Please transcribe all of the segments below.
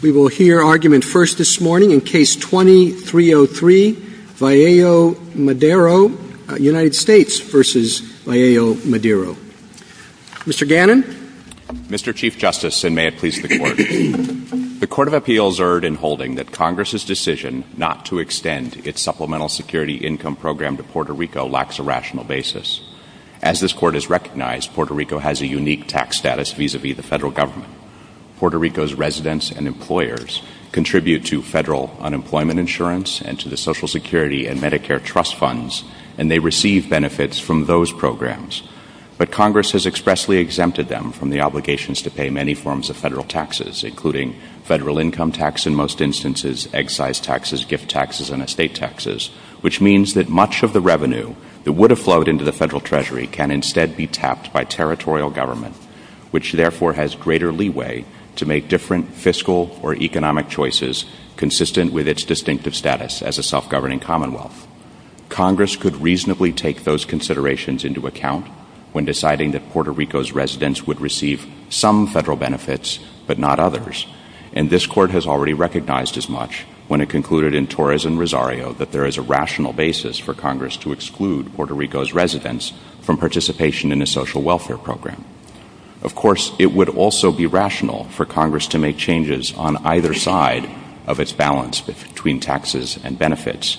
Mr. Chief Justice, and may it please the Court, the Court of Appeals erred in holding that Congress's decision not to extend its Supplemental Security Income Program to Puerto Rico lacks a rational basis. As this Court has recognized, Puerto Rico has a unique tax status vis-a-vis the federal government. Puerto Rico's residents and employers contribute to federal unemployment insurance and to the Social Security and Medicare trust funds, and they receive benefits from those programs. But Congress has expressly exempted them from the obligations to pay many forms of federal taxes, including federal income tax in most instances, excise taxes, gift taxes, and estate taxes, which means that much of the revenue that would have flowed into the federal treasury can instead be tapped by territorial government, which therefore has greater leeway to make different fiscal or economic choices consistent with its distinctive status as a self-governing commonwealth. Congress could reasonably take those considerations into account when deciding that Puerto Rico's residents would receive some federal benefits but not others, and this Court has already recognized as much when it concluded in Torres and Rosario that there is a rational basis for Congress to exclude Puerto Rico's residents from participation in a social welfare program. Of course, it would also be rational for Congress to make changes on either side of its balance between taxes and benefits,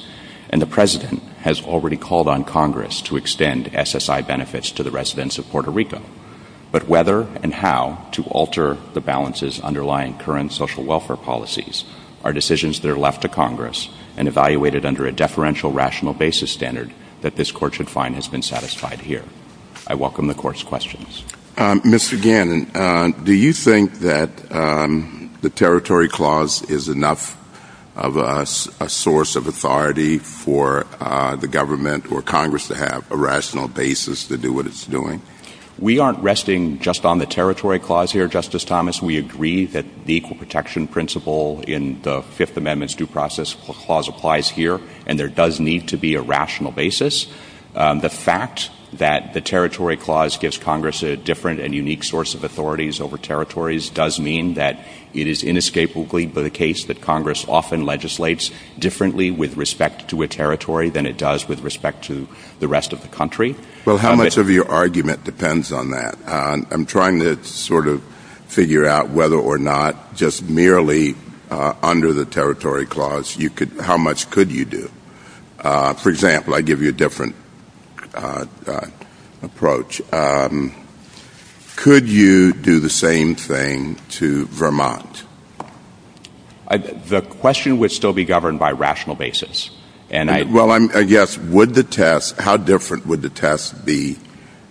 and the President has already called on Congress to extend SSI benefits to the residents of Puerto Rico. But whether and how to alter the balances underlying current social welfare policies are decisions that are left to Congress and evaluated under a deferential rational basis standard that this Court should find has been satisfied here. I welcome the Court's questions. Mr. Gannon, do you think that the Territory Clause is enough of a source of authority for the government or Congress to have a rational basis to do what it's doing? We aren't resting just on the Territory Clause here, Justice Thomas. We agree that the Equal in the Fifth Amendment's Due Process Clause applies here, and there does need to be a rational basis. The fact that the Territory Clause gives Congress a different and unique source of authorities over territories does mean that it is inescapably the case that Congress often legislates differently with respect to a territory than it does with respect to the rest of the country. Well, how much of your argument depends on that? I'm trying to sort of figure out whether or not just merely under the Territory Clause, how much could you do? For example, I give you a different approach. Could you do the same thing to Vermont? The question would still be governed by a rational basis. Well, I guess, how different would the test be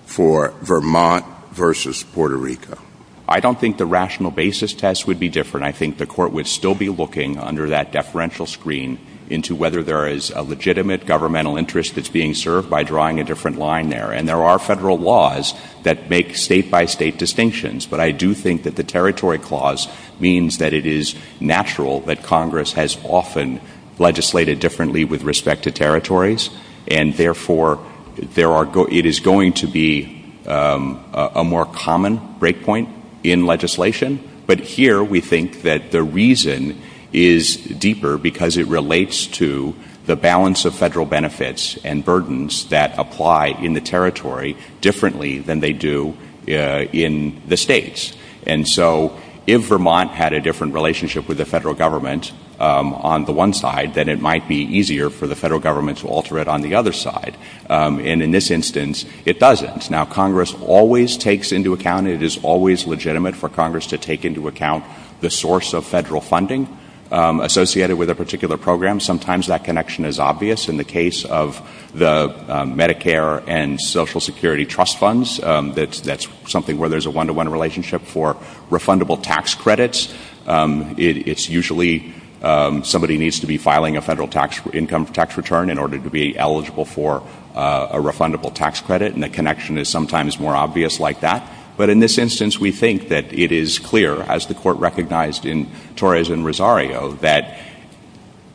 for Vermont versus Puerto Rico? I don't think the rational basis test would be different. I think the Court would still be looking under that deferential screen into whether there is a legitimate governmental interest that's being served by drawing a different line there. And there are federal laws that make state-by-state distinctions, but I do think that the Territory Clause means that it is natural that Congress has often legislated differently with respect to territories, and therefore, it is going to be a more common breakpoint in legislation. But here, we think that the reason is deeper because it relates to the balance of federal benefits and burdens that apply in the Territory differently than they do in the states. And so, if Vermont had a different relationship with the federal government on the one side, then it might be easier for the federal government to alter it on the other side. And in this instance, it doesn't. Now, Congress always takes into account, it is always legitimate for Congress to take into account the source of federal funding associated with a particular program. Sometimes that connection is obvious. In the case of the Medicare and Social Security trust funds, that's something where there's a one-to-one relationship for refundable tax credits. It's usually somebody needs to be filing a federal income tax return in order to be eligible for a refundable tax credit, and the connection is sometimes more obvious like that. But in this instance, we think that it is clear, as the Court recognized in Torres and Rosario, that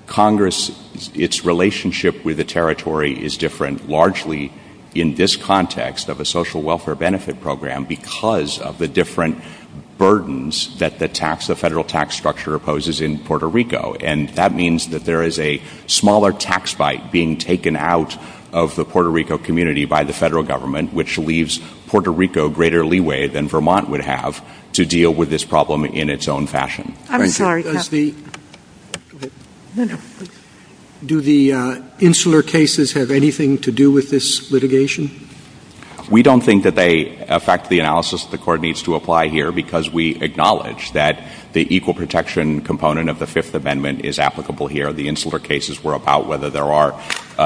Congress, its relationship with the Territory is different largely in this context of a social welfare benefit program because of the different burdens that the tax, the federal tax structure opposes in Puerto Rico. And that means that there is a smaller tax bite being taken out of the Puerto Rico community by the federal government, which leaves Puerto Rico greater leeway than Vermont would have to deal with this problem in its own fashion. Do the insular cases have anything to do with this litigation? We don't think that they affect the analysis that the Court needs to apply here because we acknowledge that the equal protection component of the Fifth Amendment is applicable here. The insular cases were about whether there are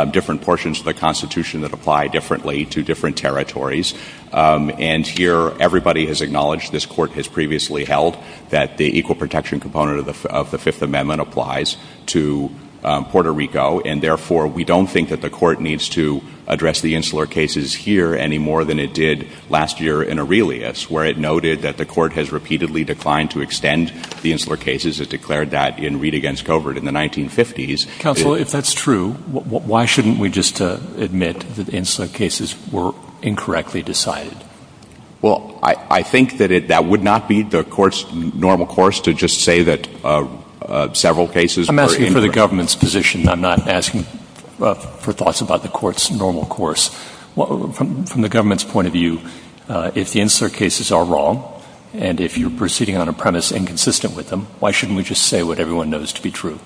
different portions of the Constitution that apply differently to different territories. And here, everybody has acknowledged, this Court has previously held, that the equal protection component of the Fifth Amendment applies to Puerto Rico. And therefore, we don't think that the Court needs to address the insular cases here any more than it did last year in Aurelius, where it noted that the Court has repeatedly declined to extend the insular cases. It declared that in Read Against Covert in the 1950s. Counselor, if that's true, why shouldn't we just admit that the insular cases were incorrectly decided? Well, I think that that would not be the Court's normal course to just say that several cases are incorrect. I'm asking for the government's position. I'm not asking for thoughts about the Court's normal course. From the government's point of view, if the insular cases are wrong, and if you're proceeding on a premise inconsistent with them, why shouldn't we just say what everyone knows to be true?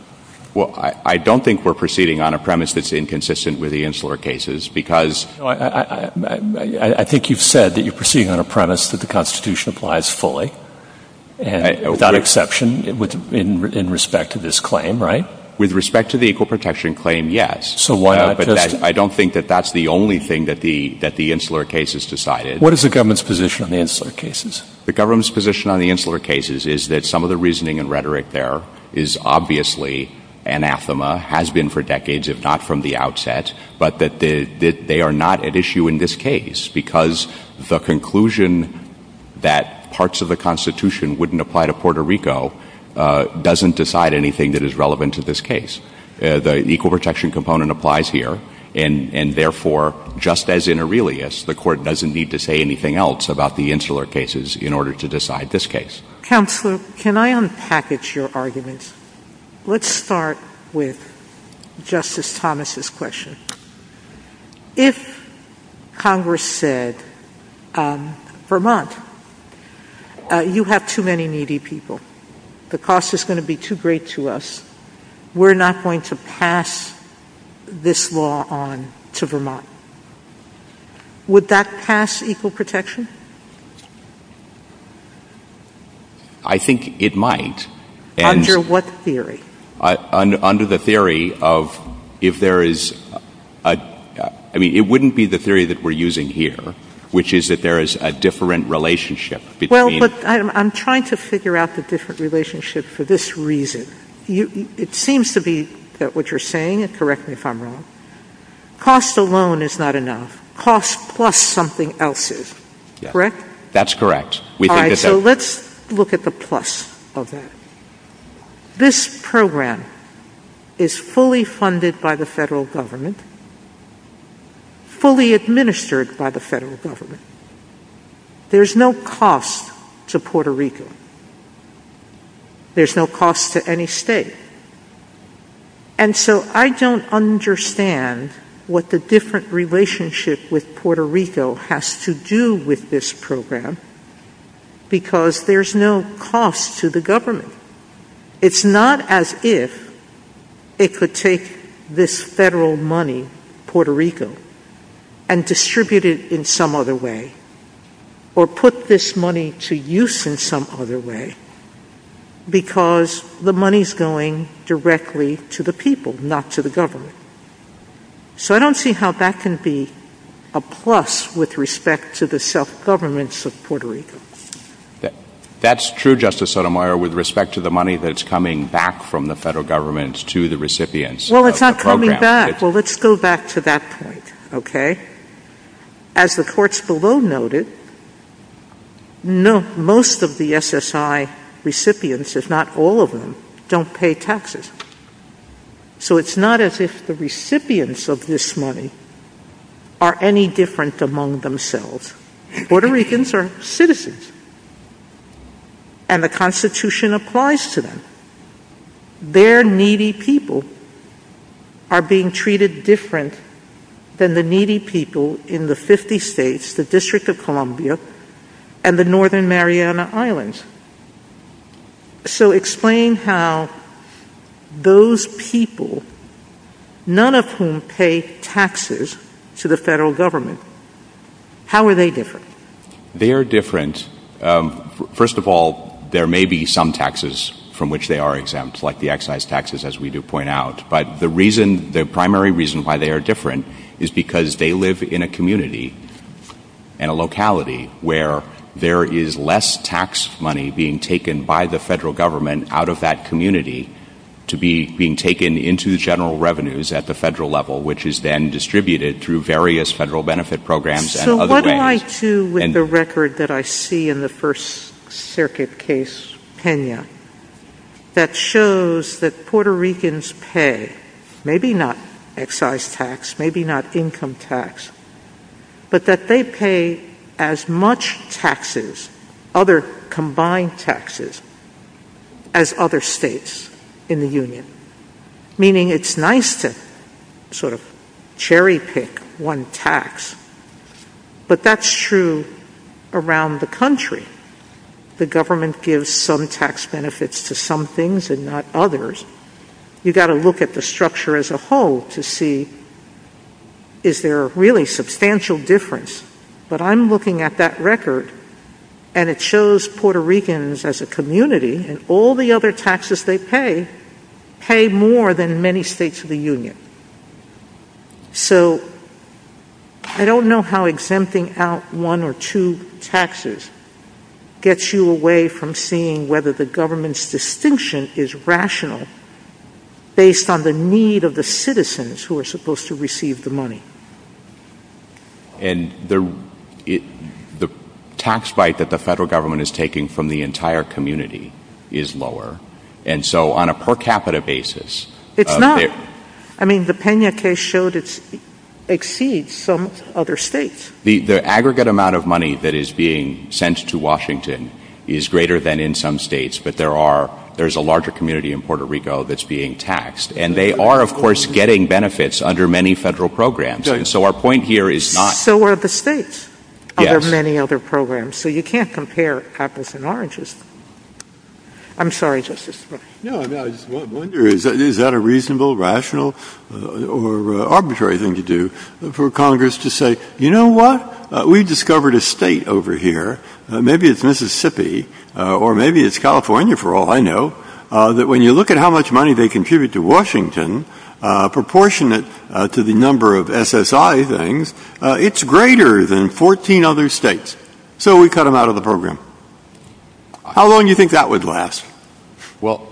Well, I don't think we're proceeding on a premise that's inconsistent with the insular cases, because... I think you've said that you're proceeding on a premise that the Constitution applies fully, without exception, in respect to this claim, right? With respect to the Equal Protection Claim, yes. I don't think that that's the only thing that the insular cases decided. What is the government's position on the insular cases? The government's position on the insular cases is that some of the reasoning and rhetoric there is obviously anathema, has been for decades, if not from the outset, but that they are not at issue in this case, because the conclusion that parts of the Constitution wouldn't apply to Puerto Rico doesn't decide anything that is relevant to this case. The equal protection component applies here, and therefore, just as in Aurelius, the Court doesn't need to say anything else about the insular cases in order to decide this case. Counselor, can I unpackage your arguments? Let's start with Justice Thomas's question. If Congress said, Vermont, you have too many needy people, the cost is going to be too great to us, we're not going to pass this law on to Vermont, would that pass equal protection? I think it might. Under what theory? Under the theory of, if there is, I mean, it wouldn't be the theory that we're using here, which is that there is a different relationship between... Well, but I'm trying to figure out the different relationship for this reason. It seems to be that what you're saying, and correct me if I'm wrong, cost alone is not enough. Cost plus something else is. Correct? That's correct. All right, so let's look at the plus of that. This program is fully funded by the federal government, fully administered by the federal government. There's no cost to Puerto Rico. There's no cost to any state. And so I don't understand what the different relationship with Puerto Rico has to do with this program, because there's no cost to the government. It's not as if it could take this federal money, Puerto Rico, and distribute it in some other way, or put this money to use in some other way, because the money's going directly to the people, not to the government. So I don't see how that can be a plus with respect to the self-governments of Puerto Rico. That's true, Justice Sotomayor, with respect to the money that's coming back from the federal government to the recipients of the program. Well, it's not coming back. Well, let's go back to that point, okay? As the courts below noted, no, most of the SSI recipients, if not all of them, don't pay taxes. And the state doesn't. So it's not as if the recipients of this money are any different among themselves. Puerto Ricans are citizens, and the Constitution applies to them. Their needy people are being treated different than the needy people in the 50 states, the District of Columbia, and the Northern Mariana Islands. So explain how those people, none of whom pay taxes to the federal government, how are they different? They are different. First of all, there may be some taxes from which they are exempt, like the excise taxes, as we do point out. But the reason, the primary reason why they are different is because they live in a community and a locality where there is less tax money being taken by the federal government out of that community to be being taken into the general revenues at the federal level, which is then distributed through various federal benefit programs and other things. So what do I do with the record that I see in the First Circuit case, Pena, that shows that Puerto Ricans pay, maybe not excise tax, maybe not income tax, but that they pay as combined taxes as other states in the union, meaning it's nice to sort of cherry-pick one tax. But that's true around the country. The government gives some tax benefits to some things and not others. You've got to look at the structure as a whole to see is there really substantial difference. But I'm looking at that record and it shows Puerto Ricans as a community and all the other taxes they pay, pay more than many states of the union. So I don't know how exempting out one or two taxes gets you away from seeing whether the government's distinction is rational based on the need of the citizens who are supposed to receive the money. And the tax bite that the federal government is taking from the entire community is lower. And so on a per capita basis... It's not. I mean, the Pena case showed it exceeds some other states. The aggregate amount of money that is being sent to Washington is greater than in some states, but there's a larger community in Puerto Rico that's being taxed. And they are, of course, getting benefits under many federal programs. So our point here is not... So are the states under many other programs. So you can't compare apples and oranges. I'm sorry, Justice Ginsburg. No, I wonder is that a reasonable, rational, or arbitrary thing to do for Congress to say, you know what, we discovered a state over here, maybe it's Mississippi, or maybe it's California, proportionate to the number of SSI things, it's greater than 14 other states. So we cut them out of the program. How long do you think that would last? Well,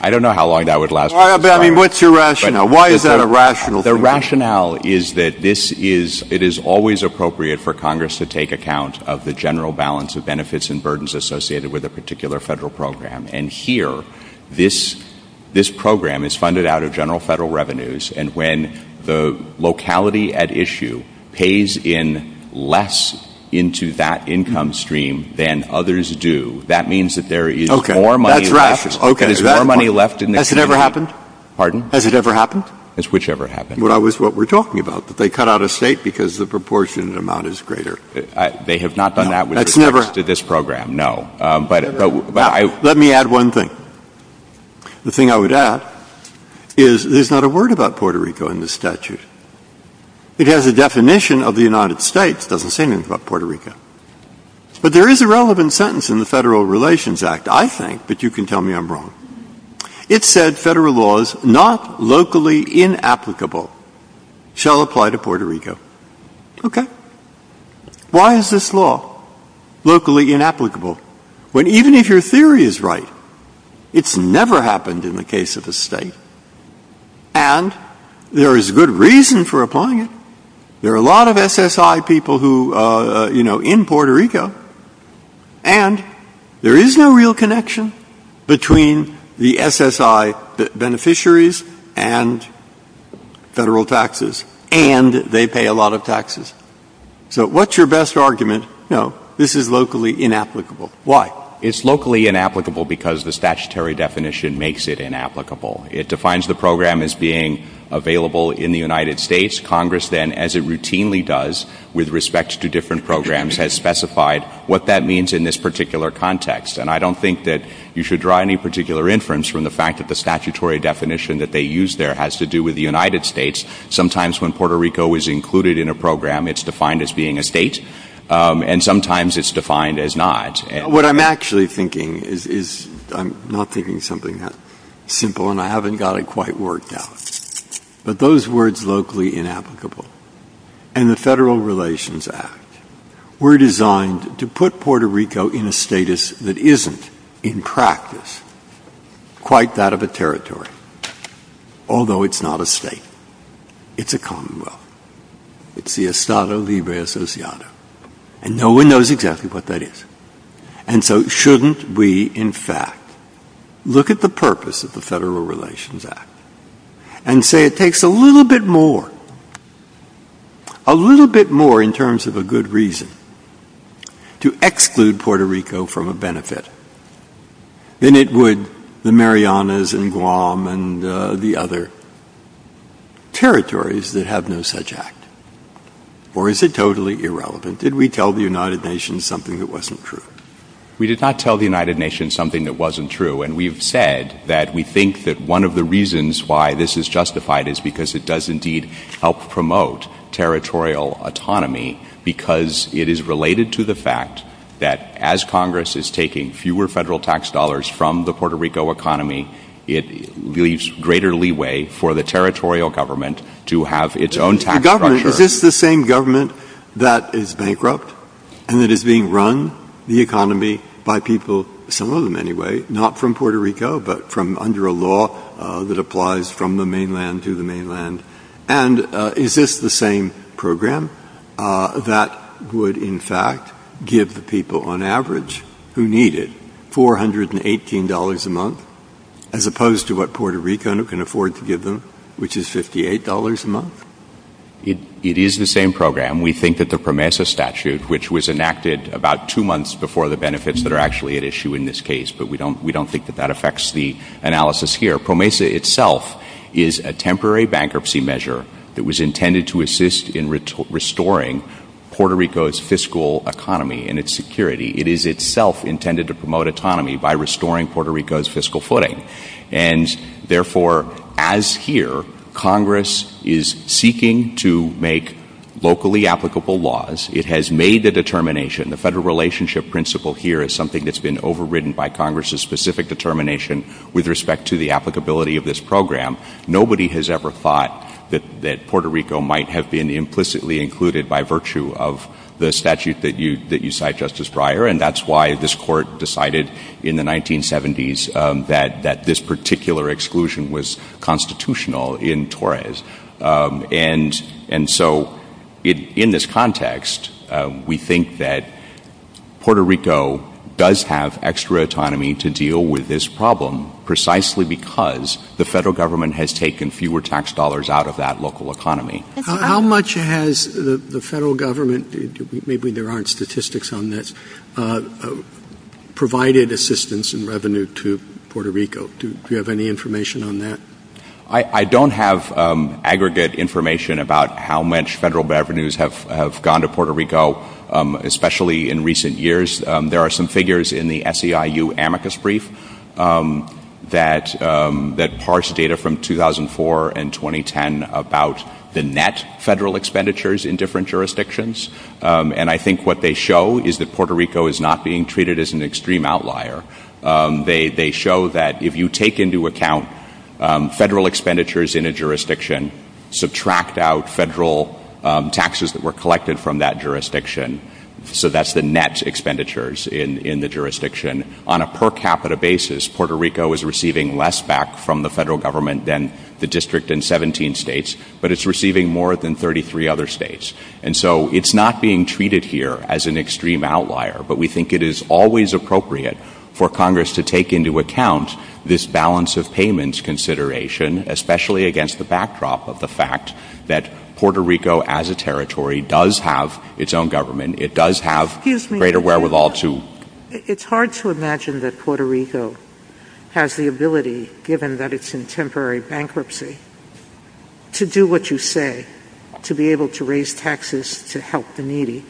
I don't know how long that would last. But I mean, what's your rationale? Why is that a rational thing? The rationale is that this is, it is always appropriate for Congress to take account of the general balance of benefits and burdens associated with a particular federal program. And here, this program is funded out of general federal revenues. And when the locality at issue pays in less into that income stream than others do, that means that there is more money left in the community. Has it ever happened? Pardon? Has it ever happened? It's whichever happened. Well, that's what we're talking about. They cut out a state because the proportion amount is greater. They have not done that with respect to this program, no. Let me add one thing. The thing I would add is there's not a word about Puerto Rico in this statute. It has a definition of the United States. It doesn't say anything about Puerto Rico. But there is a relevant sentence in the Federal Relations Act, I think, but you can tell me I'm wrong. It said federal laws, not locally inapplicable, shall apply to Puerto Rico. Okay. Why is this law locally inapplicable? Even if your theory is right, it's never happened in the case of a state. And there is good reason for applying it. There are a lot of SSI people in Puerto Rico, and there is no real connection between the SSI beneficiaries and federal taxes, and they pay a lot of taxes. So what's your best argument? No, this is locally inapplicable. Why? It's locally inapplicable because the statutory definition makes it inapplicable. It defines the program as being available in the United States. Congress then, as it routinely does with respect to different programs, has specified what that means in this particular context. And I don't think that you should draw any particular inference from the fact that the language that they use there has to do with the United States. Sometimes when Puerto Rico is included in a program, it's defined as being a state, and sometimes it's defined as not. What I'm actually thinking is, I'm not thinking something that simple, and I haven't got it quite worked out, but those words locally inapplicable and the Federal Relations Act were designed to put Puerto Rico in a status that isn't, in practice, quite that of a territory. Although it's not a state, it's a commonwealth. It's the Estado Libre Asociado, and no one knows exactly what that is. And so shouldn't we, in fact, look at the purpose of the Federal Relations Act and say it takes a little bit more, a little bit more in terms of a good reason to exclude Puerto Rico from a benefit than it would the Marianas and Guam and the other territories that have no such act? Or is it totally irrelevant? Did we tell the United Nations something that wasn't true? We did not tell the United Nations something that wasn't true, and we've said that we think that one of the reasons why this is justified is because it does indeed help promote territorial autonomy because it is related to the fact that as Congress is taking fewer federal tax dollars from the Puerto Rico economy, it leaves greater leeway for the territorial government to have its own tax structure. The government, is this the same government that is bankrupt and that is being run, the economy, by people, some of them anyway, not from Puerto Rico, but from under a law that applies from the mainland to the mainland? And is this the same program that would, in the United States, give people on average, who need it, $418 a month, as opposed to what Puerto Rico can afford to give them, which is $58 a month? It is the same program. We think that the PROMESA statute, which was enacted about two months before the benefits that are actually at issue in this case, but we don't think that that affects the analysis here. PROMESA itself is a temporary bankruptcy measure that is intended to assist in restoring Puerto Rico's fiscal economy and its security. It is itself intended to promote autonomy by restoring Puerto Rico's fiscal footing. And therefore, as here, Congress is seeking to make locally applicable laws. It has made the determination, the federal relationship principle here is something that's been overridden by Congress's specific determination with respect to the applicability of this program. Nobody has ever thought that Puerto Rico might have been implicitly included by virtue of the statute that you cite, Justice Breyer, and that's why this court decided in the 1970s that this particular exclusion was constitutional in Torres. And so, in this context, we think that Puerto Rico does have extra autonomy to deal with this problem precisely because the federal government has taken fewer tax dollars out of that local economy. How much has the federal government, maybe there aren't statistics on this, provided assistance and revenue to Puerto Rico? Do you have any information on that? I don't have aggregate information about how much federal revenues have gone to Puerto Rico, especially in recent years. There are some figures in the SEIU amicus brief that parse data from 2004 and 2010 about the net federal expenditures in different jurisdictions, and I think what they show is that Puerto Rico is not being treated as an extreme outlier. They show that if you take into account federal expenditures in a jurisdiction, subtract out federal taxes that were collected from that jurisdiction, so that's the net expenditures in the jurisdiction, on a per capita basis, Puerto Rico is receiving less back from the federal government than the district in 17 states, but it's receiving more than 33 other states. And so, it's not being treated here as an extreme outlier, but we think it is always appropriate for Congress to take into account this balance of payments consideration, especially against the backdrop of the fact that Puerto Rico as a territory does have its own government. It does have greater wherewithal to... It's hard to imagine that Puerto Rico has the ability, given that it's in temporary bankruptcy, to do what you say, to be able to raise taxes to help the needy.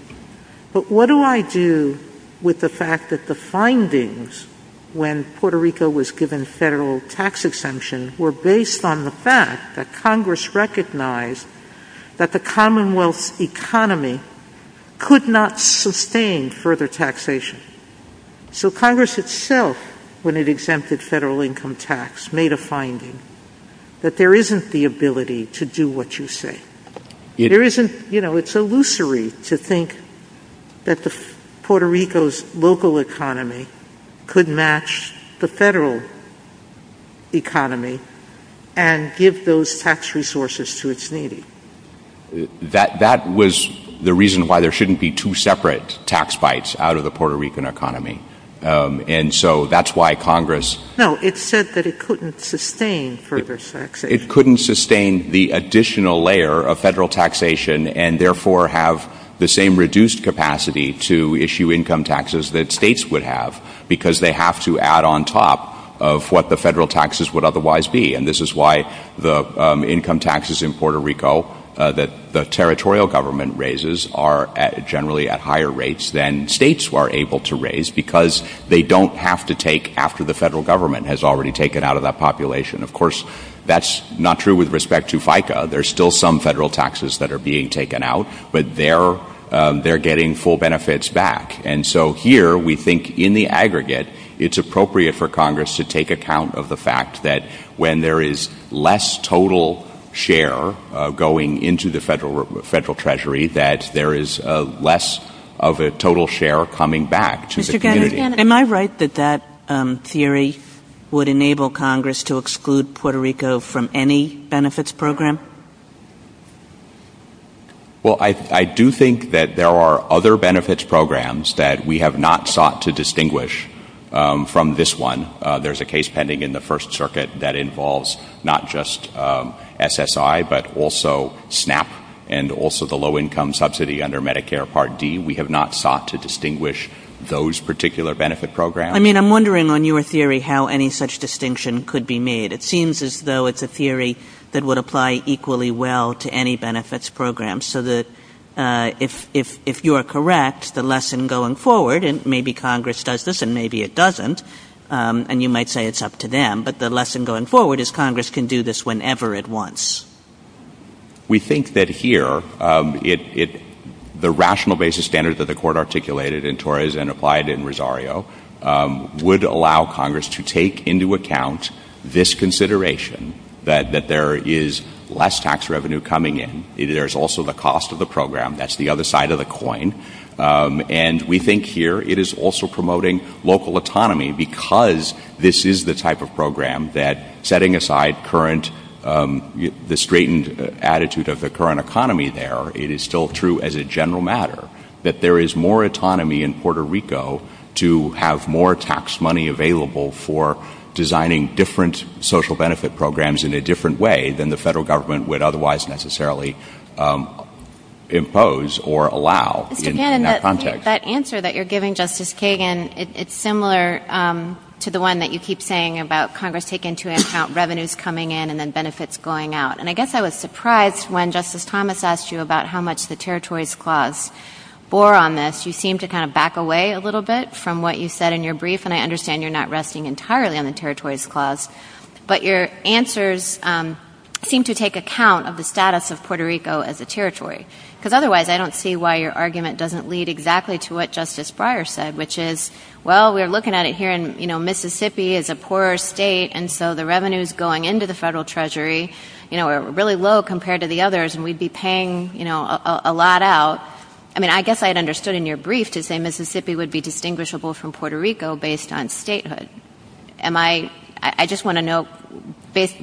But what do I do with the fact that the findings when Puerto Rico was given federal tax exemption were based on the fact that Congress recognized that the commonwealth economy could not sustain further taxation. So Congress itself, when it exempted federal income tax, made a finding that there isn't the ability to do what you say. It's illusory to think that Puerto Rico's local economy could match the federal economy and give those tax resources to its needy. That was the reason why there shouldn't be two separate tax bites out of the Puerto Rican economy. And so, that's why Congress... No, it said that it couldn't sustain further taxation. It couldn't sustain the additional layer of federal taxation and therefore have the same reduced capacity to issue income taxes that states would have because they have to add on top of what the federal taxes would otherwise be. And this is why the income taxes in Puerto Rico that the territorial government raises are generally at higher rates than states were able to raise because they don't have to take after the federal government has already taken out of that population. Of course, that's not true with respect to FICA. There's still some federal taxes that are being taken out, but they're getting full benefits back. And so here, we think in the aggregate, it's appropriate for Congress to take account of the fact that when there is less total share going into the federal treasury, that there is less of a total share coming back to the community. Mr. Gannon, am I right that that theory would enable Congress to exclude Puerto Rico from any benefits program? Well, I do think that there are other benefits programs that we have not sought to distinguish from this one. There's a case pending in the First Circuit that involves not just SSI, but also SNAP and also the low-income subsidy under Medicare Part D. We have not sought to distinguish those particular benefit programs. I mean, I'm wondering, in your theory, how any such distinction could be made. It seems as though it's a theory that would apply equally well to any benefits program, so that if you are correct, the lesson going forward, and maybe Congress does this and maybe it doesn't, and you might say it's up to them, but the lesson going forward is Congress can do this whenever it wants. We think that here, the rational basis standards that the Court articulated in Torres and applied in Rosario would allow Congress to take into account this consideration, that there is less tax revenue coming in. There's also the cost of the program. That's the other side of the coin. And we think here it is also promoting local autonomy because this is the type of program that, setting aside the straightened attitude of the current economy there, it is still true as a general matter that there is more autonomy in Puerto Rico to have more tax money available for designing different social benefit programs in a different way than the federal government would otherwise necessarily impose or allow in that context. That answer that you're giving, Justice Kagan, it's similar to the one that you keep saying about Congress taking into account revenues coming in and then benefits going out. And I guess I was surprised when Justice Thomas asked you about how much the territories clause bore on this. You seemed to kind of back away a little bit from what you said in your brief, and I understand you're not resting entirely on the territories clause, but your answers seem to take account of the status of Puerto Rico as a territory. Because otherwise, I don't see why your argument doesn't lead exactly to what Justice Breyer said, which is, well, we're looking at it here, and Mississippi is a poorer state, and so the revenues going into the federal treasury are really low compared to the others, and we'd be paying a lot out. I mean, I guess I had understood in your brief to say Mississippi would be distinguishable from Puerto Rico based on statehood. I just want to know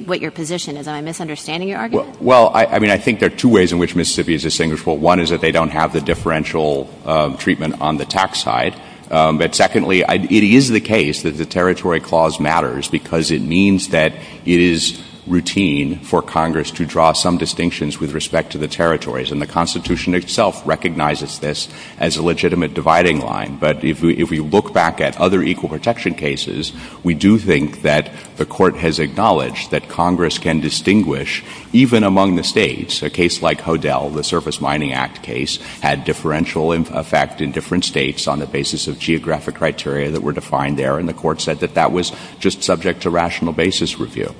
what your position is. Am I misunderstanding your argument? Well, I mean, I think there are two ways in which Mississippi is distinguishable. One is that they don't have the differential treatment on the tax side. But secondly, it is the case that the territory clause matters because it means that it is routine for Congress to draw some distinctions with respect to the territories, and the Constitution itself recognizes this as a legitimate dividing line. But if we look back at other equal protection cases, we do think that the Court has acknowledged that Congress can distinguish even among the states. A case like Hodel, the Surface Mining Act case, had differential effect in different states on the basis of geographic criteria that were defined there, and the Court said that that was just subject to rational basis review.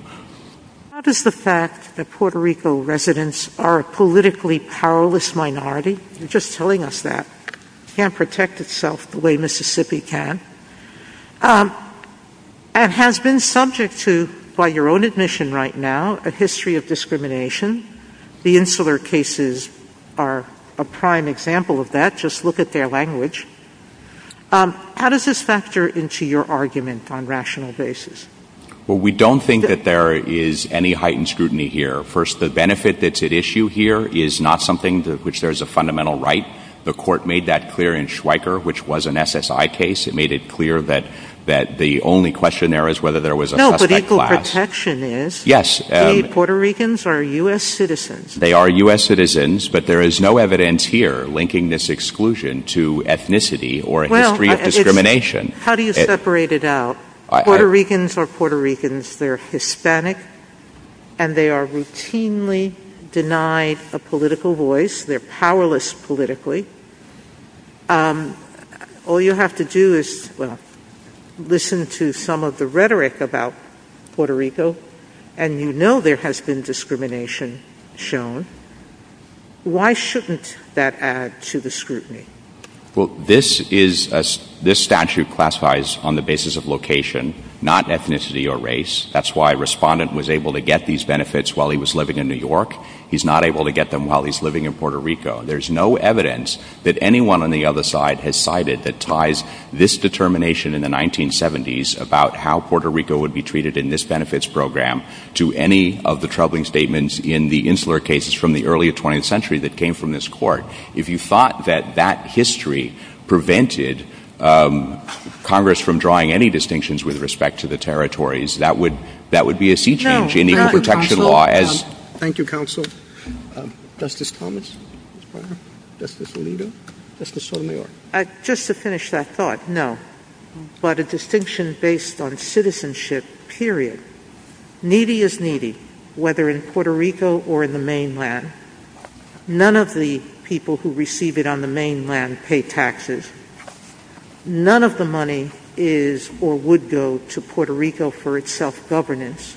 How does the fact that Puerto Rico residents are a politically powerless minority, you're just telling us that, can't protect itself the way Mississippi can, and has been subject to, by your own admission right now, a history of discrimination. The Insular cases are a history of discrimination. How does this factor into your argument on rational basis? We don't think that there is any heightened scrutiny here. First, the benefit that's at issue here is not something to which there's a fundamental right. The Court made that clear in Schweiker, which was an SSI case. It made it clear that the only question there is whether there was a suspect class. No, but equal protection is. Yes. The Puerto Ricans are U.S. citizens. They are U.S. citizens, but there is no evidence here linking this exclusion to ethnicity or a history of discrimination. How do you separate it out? Puerto Ricans are Puerto Ricans. They're Hispanic, and they are routinely denied a political voice. They're powerless politically. All you have to do is listen to some of the rhetoric about Puerto Rico, and you know there has been discrimination shown. Why shouldn't that add to the scrutiny? This statute classifies on the basis of location, not ethnicity or race. That's why Respondent was able to get these benefits while he was living in New York. He's not able to get them while he's living in Puerto Rico. There's no evidence that anyone on the other side has cited that ties this determination in the 1970s about how Puerto Rico would be treated in this benefits program to any of the troubling statements in the insular cases from the early 20th century that came from this court. If you thought that that history prevented Congress from drawing any distinctions with respect to the territories, that would be a sea change in equal protection law. Thank you, Counsel. Justice Thomas? Justice Alito? Justice O'Neill? Just to finish that thought, no. But a distinction based on citizenship, period. Needy is needy, whether in Puerto Rico or in the mainland. None of the people who receive it on the mainland pay taxes. None of the money is or would go to Puerto Rico for its self-governance.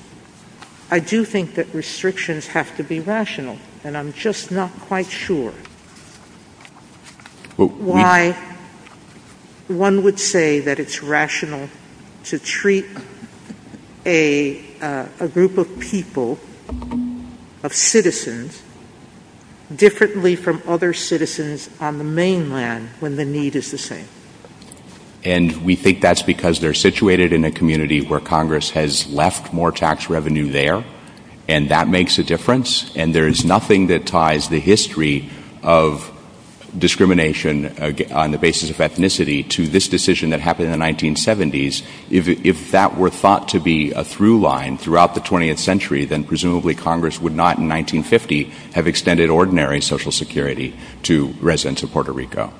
I do think that restrictions have to be rational, and I'm just not quite sure why that would be. Why one would say that it's rational to treat a group of people, of citizens, differently from other citizens on the mainland when the need is the same. And we think that's because they're situated in a community where Congress has left more tax revenue there, and that makes a difference, and there is nothing that ties the history of discrimination on the basis of ethnicity to this decision that happened in the 1970s. If that were thought to be a through-line throughout the 20th century, then presumably Congress would not, in 1950, have extended ordinary Social Security to residents of Puerto Rico.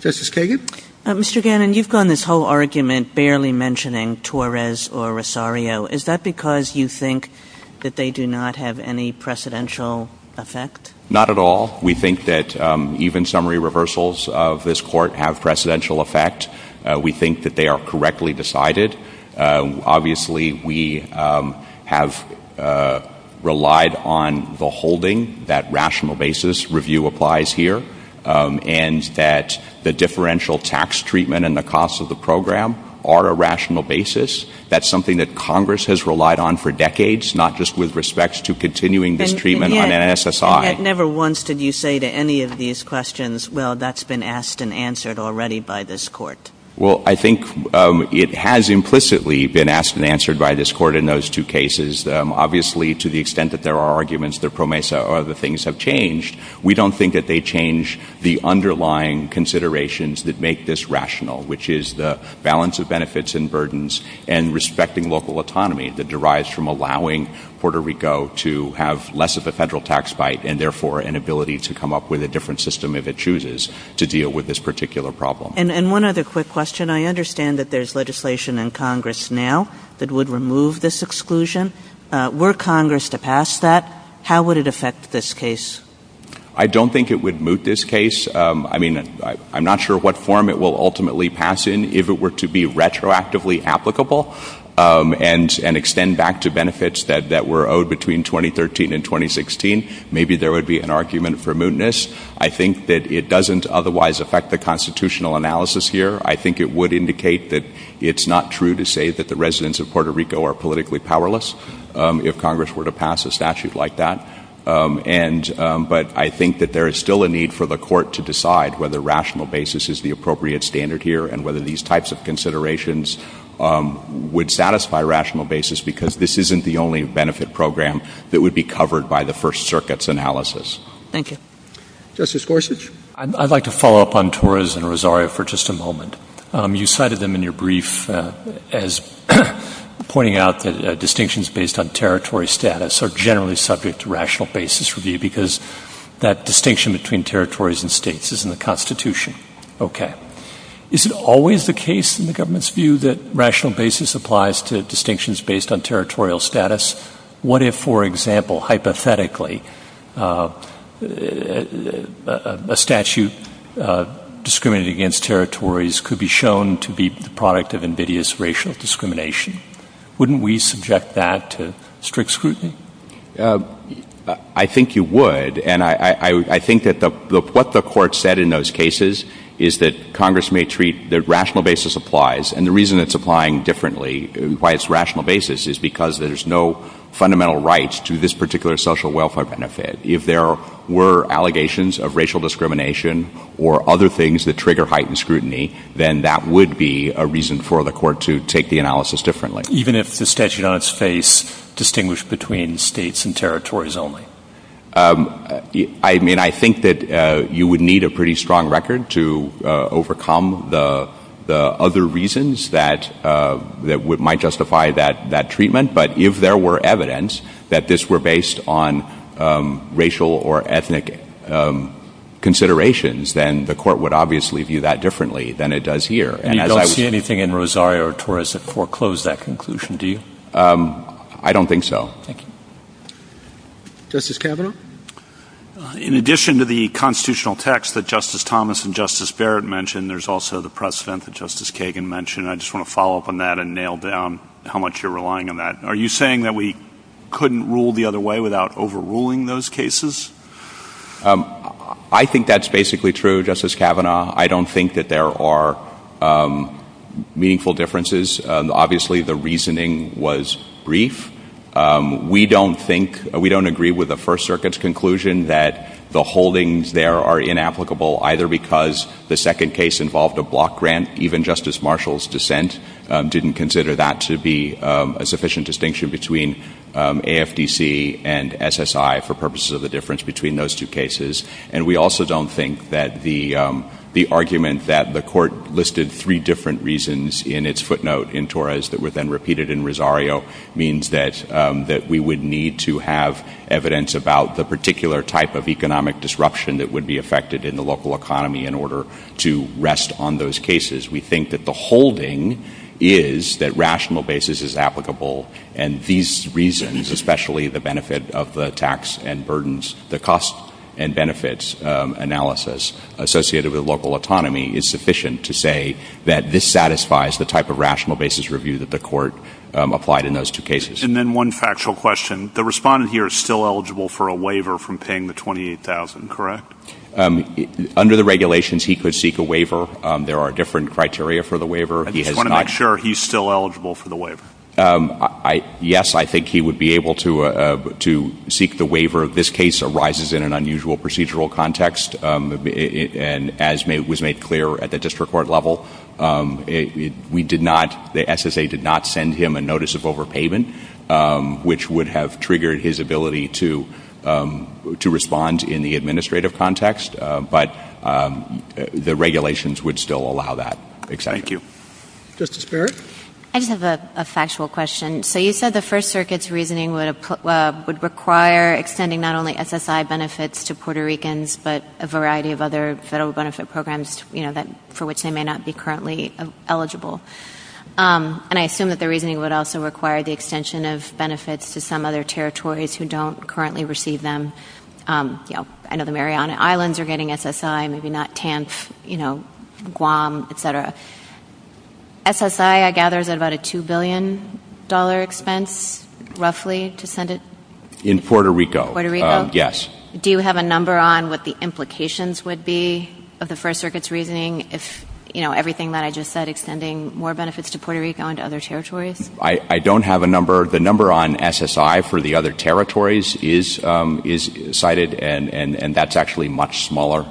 Justice Kagan? Mr. Gannon, you've gone this whole argument barely mentioning Torres or Rosario. Is that because you think that they do not have any precedential effect? Not at all. We think that even summary reversals of this court have precedential effect. We think that they are correctly decided. Obviously, we have relied on the holding that rational basis review applies here, and that the differential tax treatment and the cost of the program are a rational basis. That's something that Congress has relied on for decades, not just with respect to continuing this treatment on NSSI. And yet, never once did you say to any of these questions, well, that's been asked and answered already by this court. Well, I think it has implicitly been asked and answered by this court in those two cases. Obviously, to the extent that there are arguments, the PROMESA or other things have changed. We don't think that they change the underlying considerations that make this rational, which is the balance of benefits and burdens and respecting local autonomy that derives from allowing Puerto Rico to have less of a federal tax bite and, therefore, an ability to come up with a different system if it chooses to deal with this particular problem. And one other quick question. I understand that there's legislation in Congress now that would remove this exclusion. Were Congress to pass that, how would it affect this case? I don't think it would move this case. I mean, I'm not sure what form it will ultimately pass in if it were to be retroactively applicable and extend back to benefits that were owed between 2013 and 2016. Maybe there would be an argument for mootness. I think that it doesn't otherwise affect the constitutional analysis here. I think it would indicate that it's not true to say that the residents of Puerto Rico are politically powerless if Congress were to pass a statute like that. But I think that there is still a need for the court to decide whether rational basis is the appropriate standard here and whether these types of considerations would satisfy rational basis, because this isn't the only benefit program that would be covered by the First Circuit's analysis. Thank you. Justice Gorsuch? I'd like to follow up on Torres and Rosario for just a moment. You cited them in your brief as pointing out that distinctions based on territory status are generally subject to rational basis review because that distinction between territories and states is in the Constitution. Okay. Is it always the case in the government's view that rational basis applies to distinctions based on territorial status? What if, for example, hypothetically, a statute discriminating against territories could be shown to be the product of invidious racial discrimination? Wouldn't we subject that to strict scrutiny? I think you would. And I think that what the court said in those cases is that Congress may treat that rational basis applies. And the reason it's applying differently, why it's rational basis, is because there's no fundamental right to this particular social welfare benefit. If there were allegations of racial discrimination or other things that trigger heightened scrutiny, then that would be a reason for the court to take the analysis differently. Even if the statute on its face distinguished between states and territories only? I mean, I think that you would need a pretty strong record to overcome the other reasons that might justify that treatment. But if there were evidence that this were based on racial or ethnic considerations, then the court would obviously view that differently than it does here. And you don't see anything in Rosario or Torres that foreclosed that conclusion, do you? I don't think so. Thank you. Justice Kavanaugh? In addition to the constitutional text that Justice Thomas and Justice Barrett mentioned, there's also the precedent that Justice Kagan mentioned. I just want to follow up on that and nail down how much you're relying on that. Are you saying that we couldn't rule the other way without overruling those cases? I think that's basically true, Justice Kavanaugh. I don't think that there are meaningful differences. Obviously the reasoning was brief. We don't think, we don't agree with the First Circuit's conclusion that the holdings there are inapplicable, either because the second case involved a block grant. Even Justice Marshall's dissent didn't consider that to be a sufficient distinction between AFDC and SSI for purposes of the difference between those two cases. And we also don't think that the argument that the court listed three different reasons in its footnote in Torres that were then repeated in Rosario means that we would need to have evidence about the particular type of economic disruption that would be affected in the local economy in order to rest on those cases. We think that the holding is that rational basis is applicable, and these reasons, especially the benefit of the tax and burdens, the cost and benefits analysis associated with local autonomy is sufficient to say that this satisfies the type of rational basis review that the court applied in those two cases. And then one factual question. The respondent here is still eligible for a waiver from paying the $28,000, correct? Under the regulations, he could seek a waiver. There are different criteria for the waiver. I just want to make sure he's still eligible for the waiver. Yes, I think he would be able to seek the waiver. This case arises in an unusual procedural context, and as was made clear at the district court level, we did not, the SSA did not send him a notice of overpayment, which would have triggered his ability to respond in the administrative context, but the regulations would still allow that. Thank you. Justice Barrett? I just have a factual question. So you said the First Circuit's reasoning would require extending not only SSI benefits to Puerto Ricans, but a variety of other federal benefit programs for which they may not be currently eligible. And I assume that the reasoning would also require the extension of benefits to some other territories who don't currently receive them. I know the Mariana Islands are getting SSI, maybe not TANF, you know, Guam, et cetera. SSI, I gather, is at about a $2 billion expense, roughly, to send it? In Puerto Rico, yes. Do you have a number on what the implications would be of the First Circuit's reasoning if, you know, everything that I just said, extending more benefits to Puerto Rico and to other territories? I don't have a number. The number on SSI for the other territories is cited, and that's actually much smaller.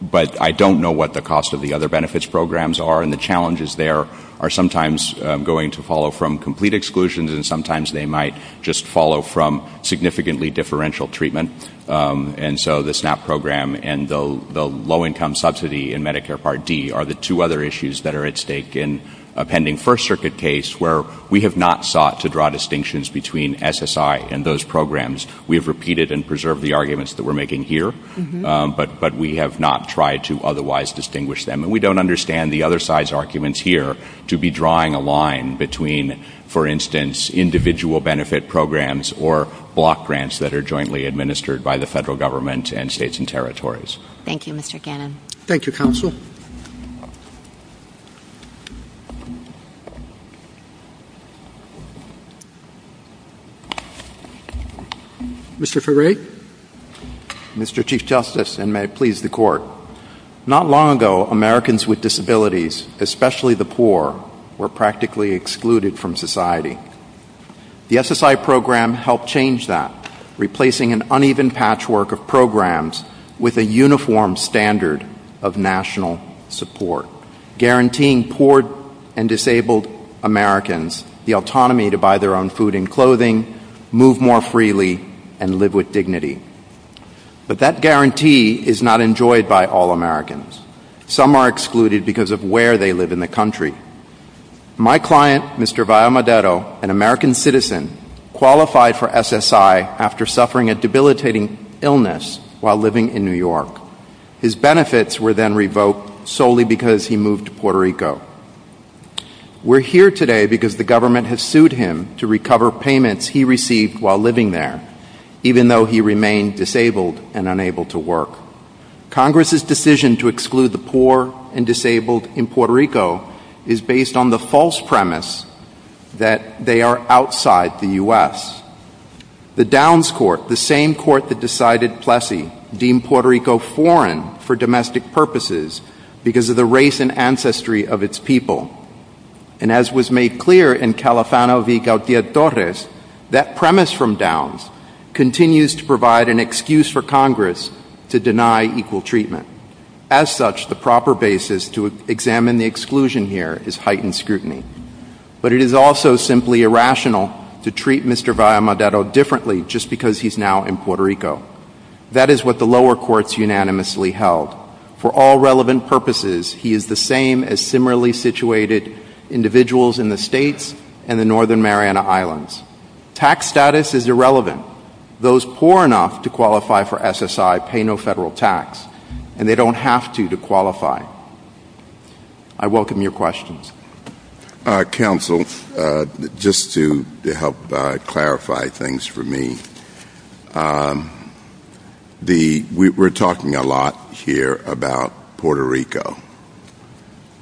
But I don't know what the cost of the other benefits programs are, and the challenges there are sometimes going to follow from complete exclusions, and sometimes they might just follow from significantly differential treatment. And so the SNAP program and the low-income subsidy in Medicare Part D are the two other issues that are at stake in a pending First Circuit case where we have not sought to draw distinctions between SSI and those programs. We have repeated and preserved the arguments that we're making here, but we have not tried to otherwise distinguish them. And we don't understand the other size arguments here to be drawing a line between, for instance, individual benefit programs or block grants that are jointly administered by the federal government and states and territories. Thank you, Mr. Cannon. Thank you, counsel. Mr. Ferre? Mr. Chief Justice, and may it please the Court. Not long ago, Americans with disabilities, especially the poor, were practically excluded from society. The SSI program helped change that, replacing an uneven patchwork of programs with a uniform standard of national support, guaranteeing poor and disabled Americans the autonomy to buy their own food and clothing, move more freely, and live with dignity. But that guarantee is not enjoyed by all Americans. Some are excluded because of where they live in the country. My client, Mr. Valmadero, an American citizen, qualified for SSI after suffering a debilitating illness while living in New York. His benefits were then revoked solely because he moved to Puerto Rico. We're here today because the government has sued him to recover payments he received while living there, even though he remained disabled and unable to work. Congress's decision to exclude the poor and disabled in Puerto Rico is based on the false premise that they are outside the U.S. The Downs Court, the same court that decided Plessy deemed Puerto Rico foreign for domestic purposes because of the race and ancestry of its people. And as was made clear in Califano v. Gautier-Torres, that premise from Downs continues to provide an excuse for Congress to deny equal treatment. As such, the proper basis to examine the exclusion here is heightened scrutiny. But it is also simply irrational to treat Mr. Valmadero differently just because he's now in Puerto Rico. That is what the lower courts unanimously held. For all relevant purposes, he is the same as similarly situated individuals in the states and the northern Mariana Islands. Tax status is irrelevant. Those poor enough to qualify for SSI pay no federal tax, and they don't have to, to qualify. I welcome your questions. Counsel, just to help clarify things for me, we're talking a lot here about Puerto Rico,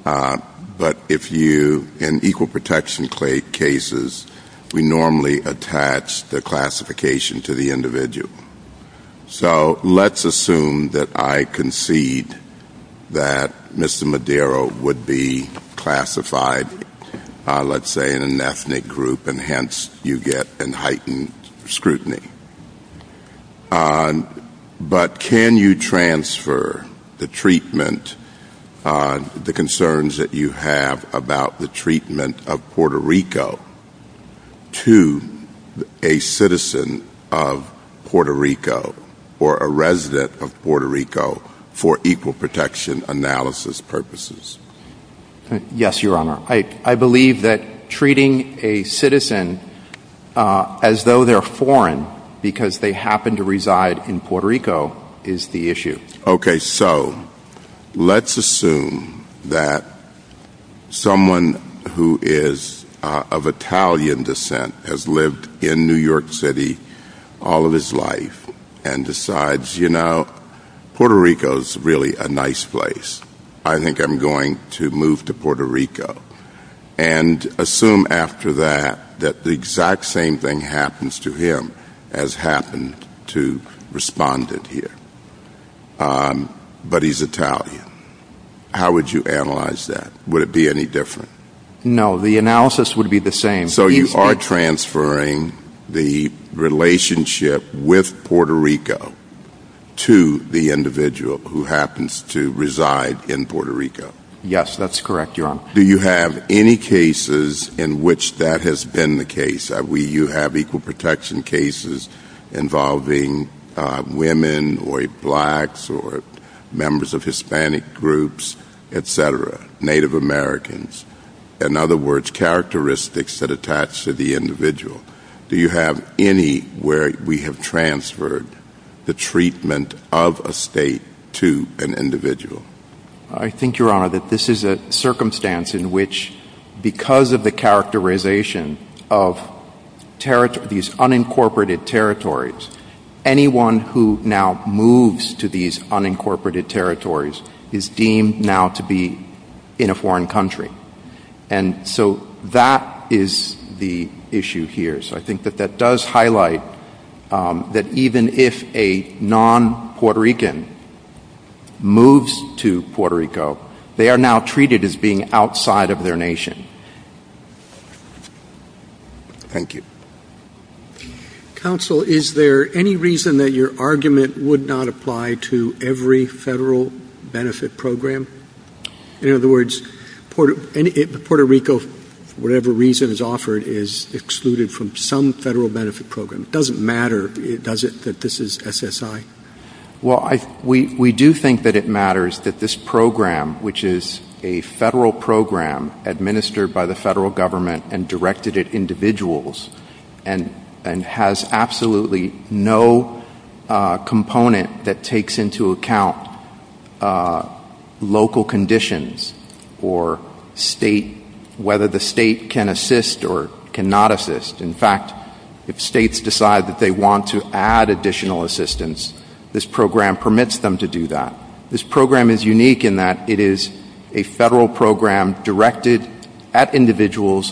but in equal protection cases, we normally attach the classification to the individual. So let's assume that I concede that Mr. Valmadero would be classified, let's say, in an ethnic group, and hence you get an heightened scrutiny. But can you transfer the treatment, the concerns that you have about the treatment of Puerto Rico, to a citizen of Puerto Rico, or to a resident of Puerto Rico, for equal protection analysis purposes? Yes, Your Honor. I believe that treating a citizen as though they're foreign because they happen to reside in Puerto Rico is the issue. Okay, so let's assume that someone who is of Italian descent has lived in New York City all of his life, and decides, you know, Puerto Rico's really a nice place. I think I'm going to move to Puerto Rico. And assume after that, that the exact same thing happens to him, has happened to respondent here. But he's Italian. How would you analyze that? Would it be any different? No, the analysis would be the same. So you are transferring the relationship with Puerto Rico to the individual who happens to reside in Puerto Rico? Yes, that's correct, Your Honor. Do you have any cases in which that has been the case? I mean, you have equal protection cases involving women, or blacks, or members of Hispanic groups, et cetera, Native Americans. In other words, characteristics that attach to the individual. Do you have any where we have transferred the treatment of a state to an individual? I think, Your Honor, that this is a circumstance in which, because of the characterization of these unincorporated territories, anyone who now moves to these unincorporated territories is deemed now to be in a foreign country. And so that is the issue here. So I think that that does highlight that even if a non-Puerto Rican moves to Puerto Rico, they are now treated as being outside of their nation. Thank you. Counsel, is there any reason that your argument would not apply to every federal benefit program? In other words, Puerto Rico, whatever reason is offered, is excluded from some federal benefit program. It doesn't matter, does it, that this is SSI? Well, we do think that it matters that this program, which is a federal program administered by the federal government and directed at individuals and has absolutely no component that takes into account local conditions or whether the state can assist or cannot assist. In fact, if states decide that they want to add additional assistance, this program permits them to do that. This program is unique in that it is a federal program directed at individuals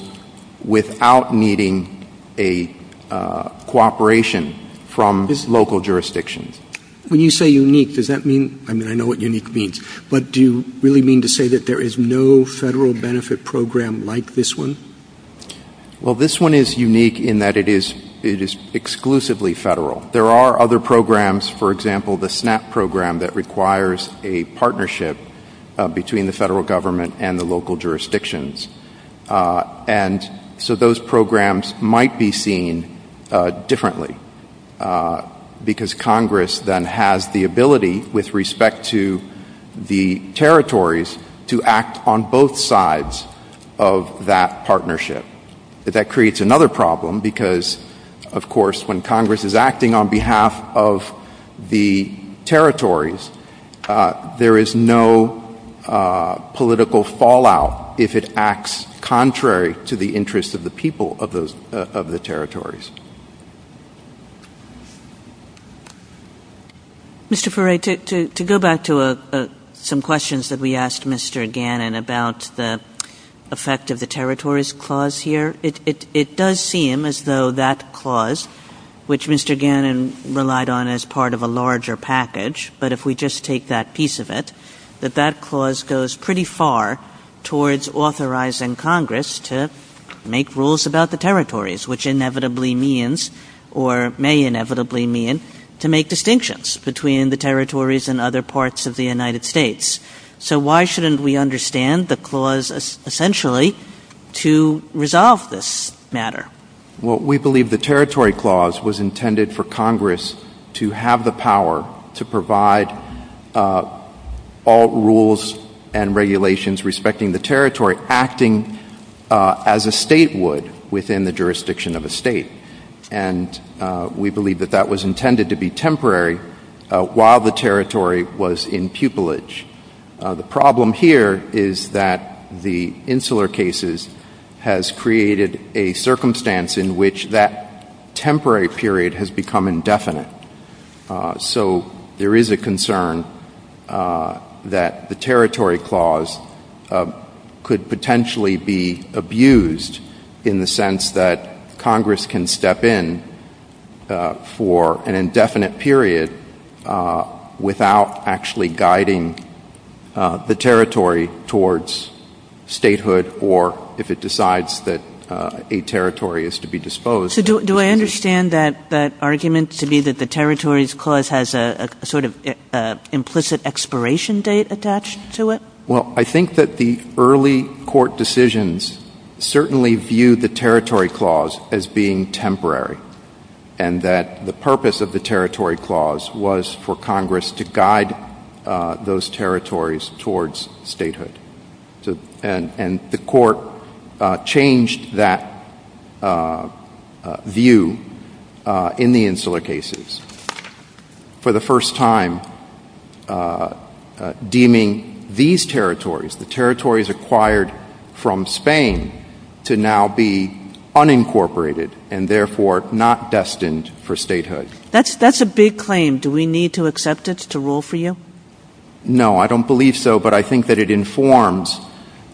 without needing a cooperation from this local jurisdiction. When you say unique, does that mean, I mean, I know what unique means, but do you really mean to say that there is no federal benefit program like this one? Well, this one is unique in that it is exclusively federal. There are other programs, for example, the SNAP program that requires a partnership between the federal government and the local jurisdictions. And so those programs might be seen differently because Congress then has the ability with respect to the territories to act on both sides of that partnership. That creates another problem because, of course, when Congress is acting on behalf of the territories, there is no political fallout if it acts contrary to the interest of the people of the territories. Mr. Furey, to go back to some questions that we asked Mr. Gannon about the effect of the territories clause here, it does seem as though that clause, which Mr. Gannon relied on as part of a larger package, but if we just take that piece of it, that that clause goes pretty far towards authorizing Congress to make rules about the territories, which inevitably means or may inevitably mean to make distinctions between the territories and other parts of the United States. So why shouldn't we understand the clause essentially to resolve this matter? Well, we believe the territory clause was intended for Congress to have the power to provide all rules and regulations respecting the territory acting as a state would within the jurisdiction of a state. And we believe that that was intended to be temporary while the territory was in pupillage. The problem here is that the Insular Cases has created a circumstance in which that temporary period has become indefinite. So there is a concern that the territory clause could potentially be abused in the sense that Congress can step in for an indefinite period without actually guiding the territory towards statehood or if it decides that a territory is to be disposed of. So do I understand that argument to be that the territories clause has a sort of implicit expiration date attached to it? Well, I think that the early court decisions certainly viewed the territory clause as being temporary and that the purpose of the territory clause was for Congress to guide those territories towards statehood. And the court changed that view in the Insular Cases for the first time deeming these territories, the territories acquired from Spain, to now be unincorporated and therefore not destined for statehood. That's a big claim. Do we need to accept it to rule for you? No, I don't believe so. But I think that it informs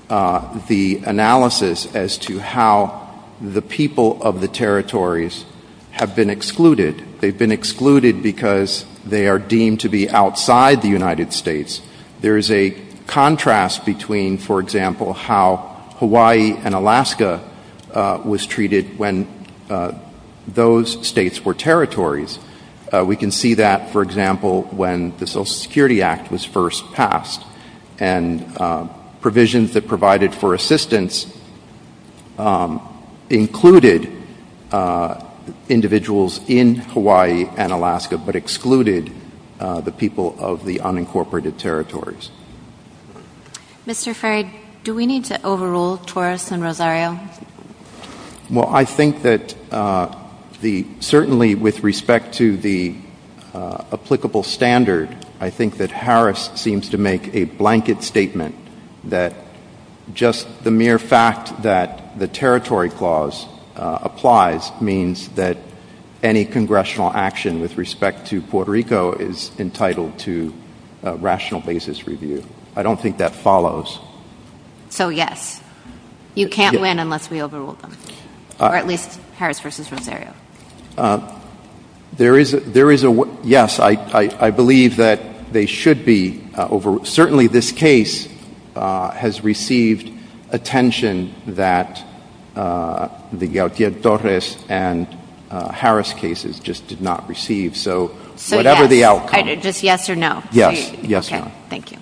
the analysis as to how the people of the territories have been excluded. They've been excluded because they are deemed to be outside the United States. There is a contrast between, for example, how Hawaii and Alaska was treated when those states were territories. We can see that, for example, when the Social Security Act was first passed and provisions that provided for assistance included individuals in Hawaii and Alaska but excluded the people of the unincorporated territories. Mr. Frey, do we need to overrule Torres and Rosario? Well I think that certainly with respect to the applicable standard, I think that Harris seems to make a blanket statement that just the mere fact that the territory clause applies means that any congressional action with respect to Puerto Rico is entitled to a rational basis review. I don't think that follows. So yes, you can't win unless we overrule them, or at least Harris versus Rosario. There is a, yes, I believe that they should be overruled. Certainly this case has received attention that the Gautier-Torres and Harris cases just did not receive, so whatever the outcome. So yes, just yes or no? Yes, yes ma'am. Okay, thank you.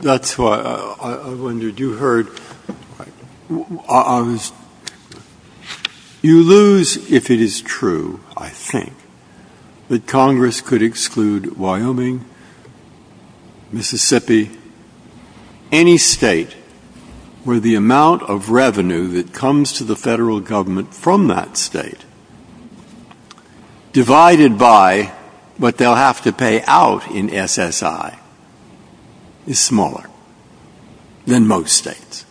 That's why I wondered, you heard, you lose if it is true, I think, that Congress could exclude Wyoming, Mississippi, any state where the amount of revenue that comes to the federal government from that state, divided by what they'll have to pay out in SSI. It's smaller than most states,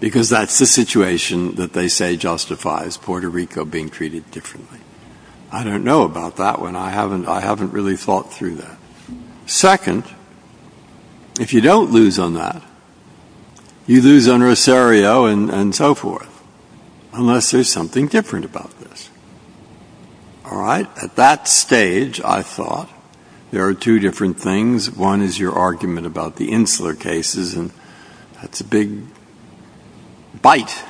because that's the situation that they say justifies Puerto Rico being treated differently. I don't know about that one. I haven't really thought through that. Second, if you don't lose on that, you lose on Rosario and so forth, unless there's something different about this. All right? At that stage, I thought there are two different things. One is your argument about the Insler cases, and that's a big bite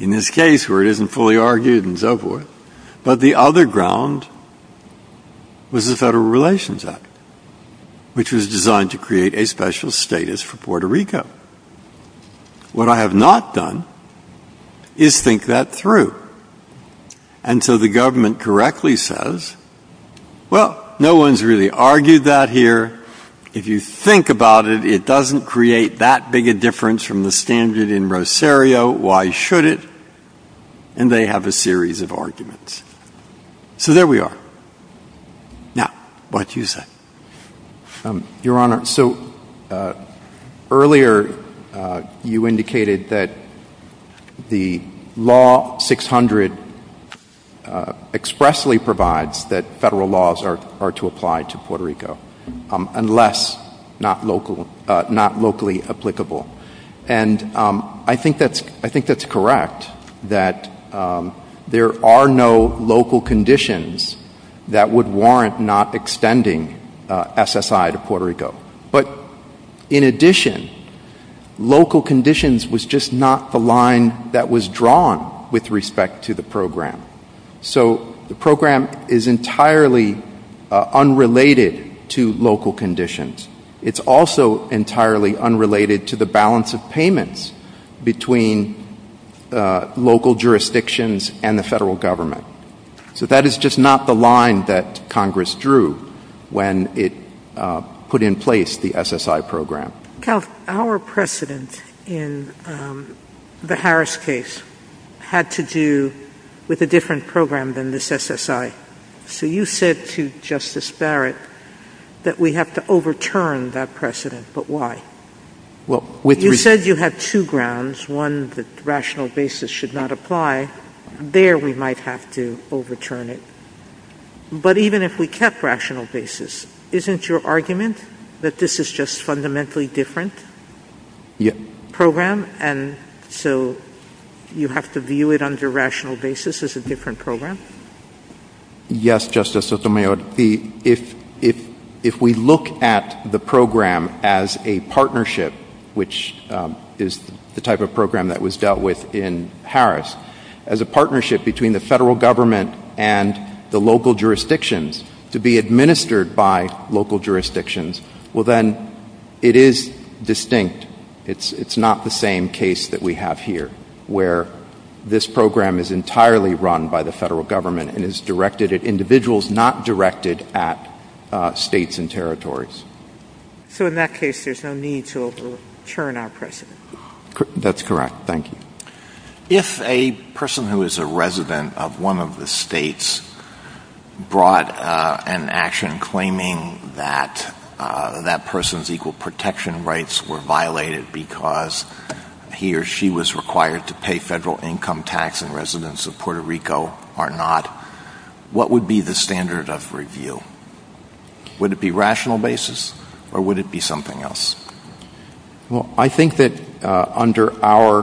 in this case where it isn't fully argued and so forth. But the other ground was the Federal Relations Act, which was designed to create a special status for Puerto Rico. What I have not done is think that through. And so the government correctly says, well, no one's really argued that here. If you think about it, it doesn't create that big a difference from the standard in Rosario. Why should it? And they have a series of arguments. So there we are. Now, why don't you say? Your Honor, so earlier you indicated that the law 600 expressly provides that federal laws are to apply to Puerto Rico, unless not locally applicable. And I think that's correct in that there are no local conditions that would warrant not extending SSI to Puerto Rico. But in addition, local conditions was just not the line that was drawn with respect to the program. So the program is entirely unrelated to local conditions. It's also entirely unrelated to the balance of payments between local jurisdictions and the federal government. So that is just not the line that Congress drew when it put in place the SSI program. Our precedent in the Harris case had to do with a different program than this SSI. So you said to Justice Barrett that we have to overturn that precedent, but why? You said you had two grounds, one that rational basis should not apply. There we might have to overturn it. But even if we kept rational basis, isn't your argument that this is just fundamentally different program? And so you have to view it under rational basis as a different program? Yes, Justice Sotomayor. If we look at the program as a partnership, which is the type of program that was dealt with in Harris, as a partnership between the federal government and the local jurisdictions to be administered by local jurisdictions, well, then it is distinct. It's not the same case that we have here, where this program is entirely run by the federal government and is directed at individuals, not directed at states and territories. So in that case, there's no need to overturn our precedent? That's correct. Thank you. If a person who is a resident of one of the states brought an action claiming that that was violated because he or she was required to pay federal income tax and residents of Puerto Rico are not, what would be the standard of review? Would it be rational basis or would it be something else? I think that under our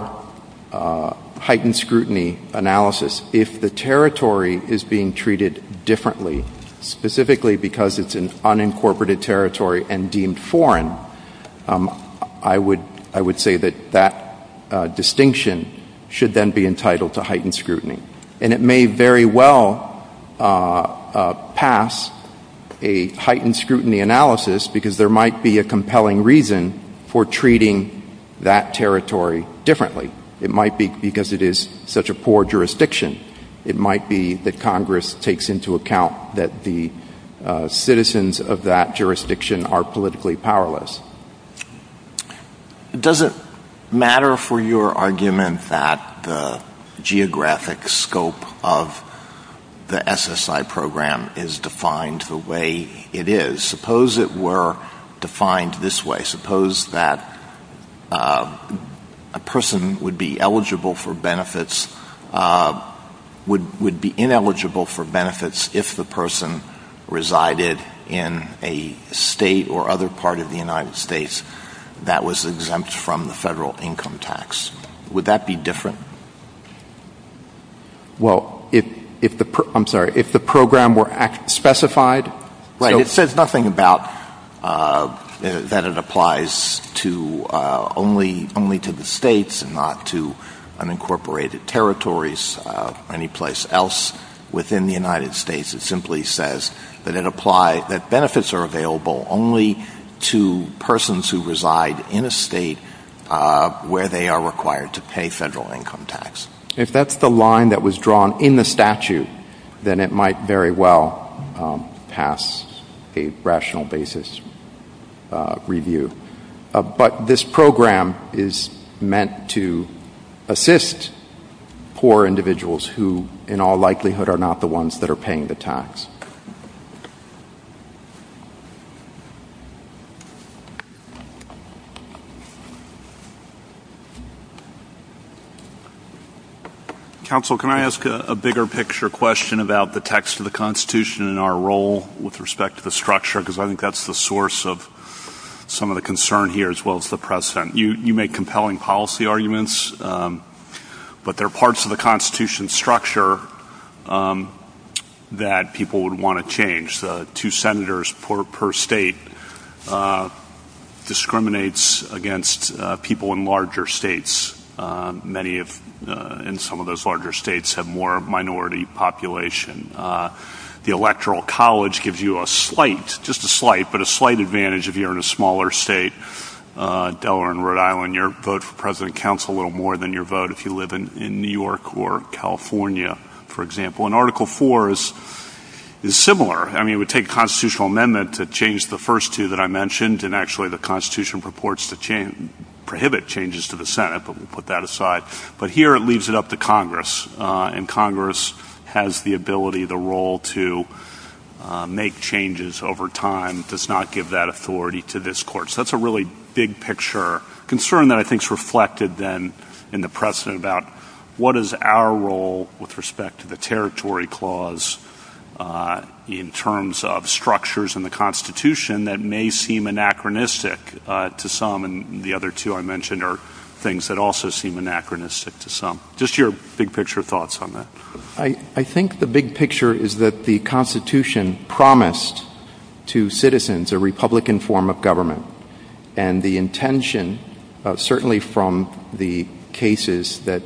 heightened scrutiny analysis, if the territory is being treated differently, specifically because it's an unincorporated territory and deemed foreign, I would say that that distinction should then be entitled to heightened scrutiny. And it may very well pass a heightened scrutiny analysis because there might be a compelling reason for treating that territory differently. It might be because it is such a poor jurisdiction. It might be that Congress takes into account that the citizens of that jurisdiction are politically powerless. Does it matter for your argument that the geographic scope of the SSI program is defined the way it is? Suppose it were defined this way. Suppose that a person would be eligible for benefits, would be ineligible for benefits if the person resided in a state or other part of the United States that was exempt from the federal income tax. Would that be different? Well, if the program were specified... Right. It says nothing about that it applies only to the states and not to unincorporated territories, any place else within the United States. It simply says that benefits are available only to persons who reside in a state where they are required to pay federal income tax. If that's the line that was drawn in the statute, then it might very well pass a rational basis review. But this program is meant to assist poor individuals who in all likelihood are not the ones that are paying the tax. Counsel can I ask a bigger picture question about the text of the Constitution and our role with respect to the structure? Because I think that's the source of some of the concern here as well as the precedent. You make compelling policy arguments, but there are parts of the Constitution that people would want to change. Two senators per state discriminates against people in larger states. Many in some of those larger states have more minority population. The electoral college gives you a slight, just a slight, but a slight advantage if you're in a smaller state. Delaware and Rhode Island, your vote for president counts a little more than your vote if you live in New York or California, for example. Article 4 is similar. It would take a constitutional amendment to change the first two that I mentioned. Actually, the Constitution purports to prohibit changes to the Senate, but we'll put that aside. But here it leaves it up to Congress. Congress has the ability, the role to make changes over time. It does not give that authority to this court. That's a really big picture concern that I think is reflected then in the precedent about what is our role with respect to the territory clause in terms of structures in the Constitution that may seem anachronistic to some, and the other two I mentioned are things that also seem anachronistic to some. Just your big picture thoughts on that. I think the big picture is that the Constitution promised to citizens a republican form of government. Certainly from the cases, the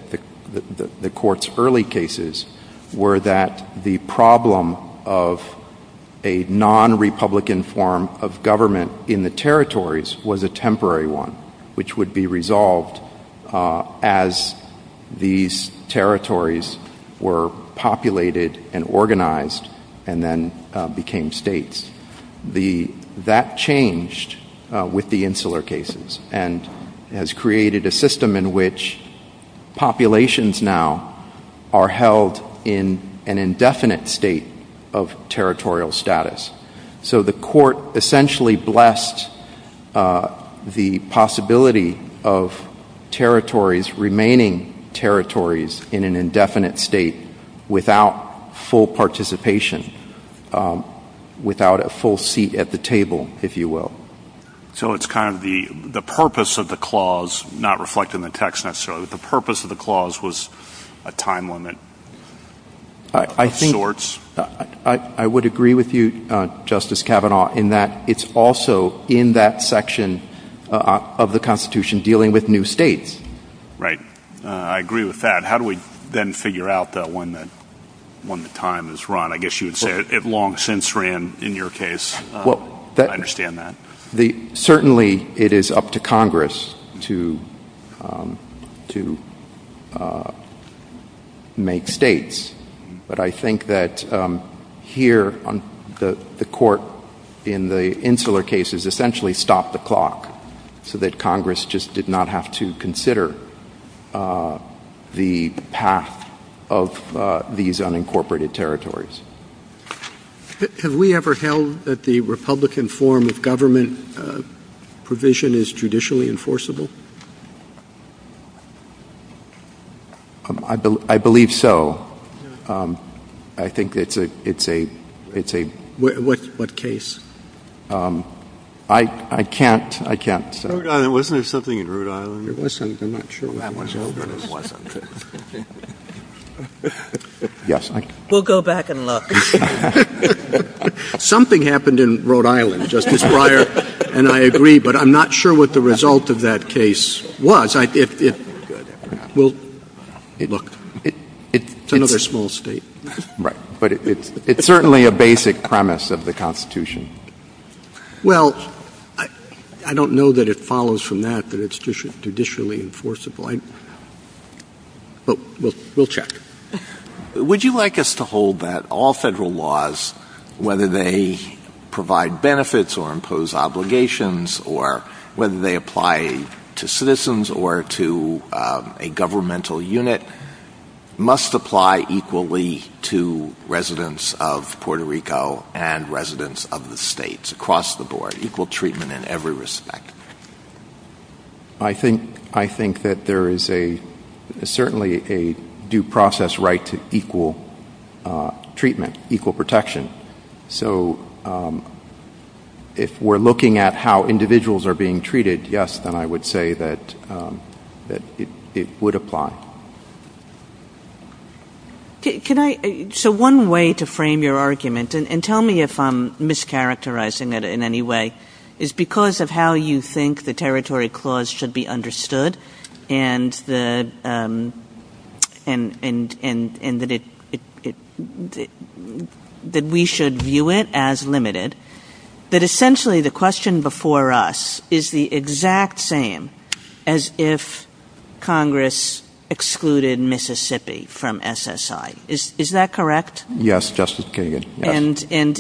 court's early cases, were that the problem of a non-republican form of government in the territories was a temporary one, which would be resolved as these territories were populated and organized and then became states. That changed with the Insular Cases and has created a system in which populations now are held in an indefinite state of territorial status. So the court essentially blessed the possibility of territories remaining territories in an indefinite state without full participation, without a full seat at the table, if you will. So it's kind of the purpose of the clause, not reflecting the text necessarily, but the purpose of the clause was a time limit of sorts? I would agree with you, Justice Kavanaugh, in that it's also in that section of the Constitution dealing with new states. Right. I agree with that. How do we then figure out that when the time is run? I guess you would say it long since ran in your case. I understand that. Certainly it is up to Congress to make states, but I think that here the court in the Insular Cases essentially stopped the clock so that Congress just did not have to consider the path of these unincorporated territories. Have we ever held that the Republican form of government provision is judicially enforceable? I believe so. I think it's a... What case? I can't. Wasn't there something in Rhode Island? Something happened in Rhode Island, Justice Breyer, and I agree, but I'm not sure what the result of that case was. Look, it's another small state. Right, but it's certainly a basic premise of the Constitution. Well, I don't know that it follows from that, that it's judicially enforceable. We'll check. Would you like us to hold that all federal laws, whether they provide benefits or impose obligations or whether they apply to citizens or to a governmental unit, must apply equally to residents of Puerto Rico and residents of the states across the board, equal treatment in every respect? I think that there is certainly a due process right to equal treatment, equal protection. So if we're looking at how individuals are being treated, yes, and I would say that it would apply. So one way to frame your argument, and tell me if I'm mischaracterizing it in any way, is because of how you think the Territory Clause should be understood and that we should view it as limited, but essentially the question before us is the exact same as if Congress excluded Mississippi from SSI. Is that correct? Yes, Justice Kagan.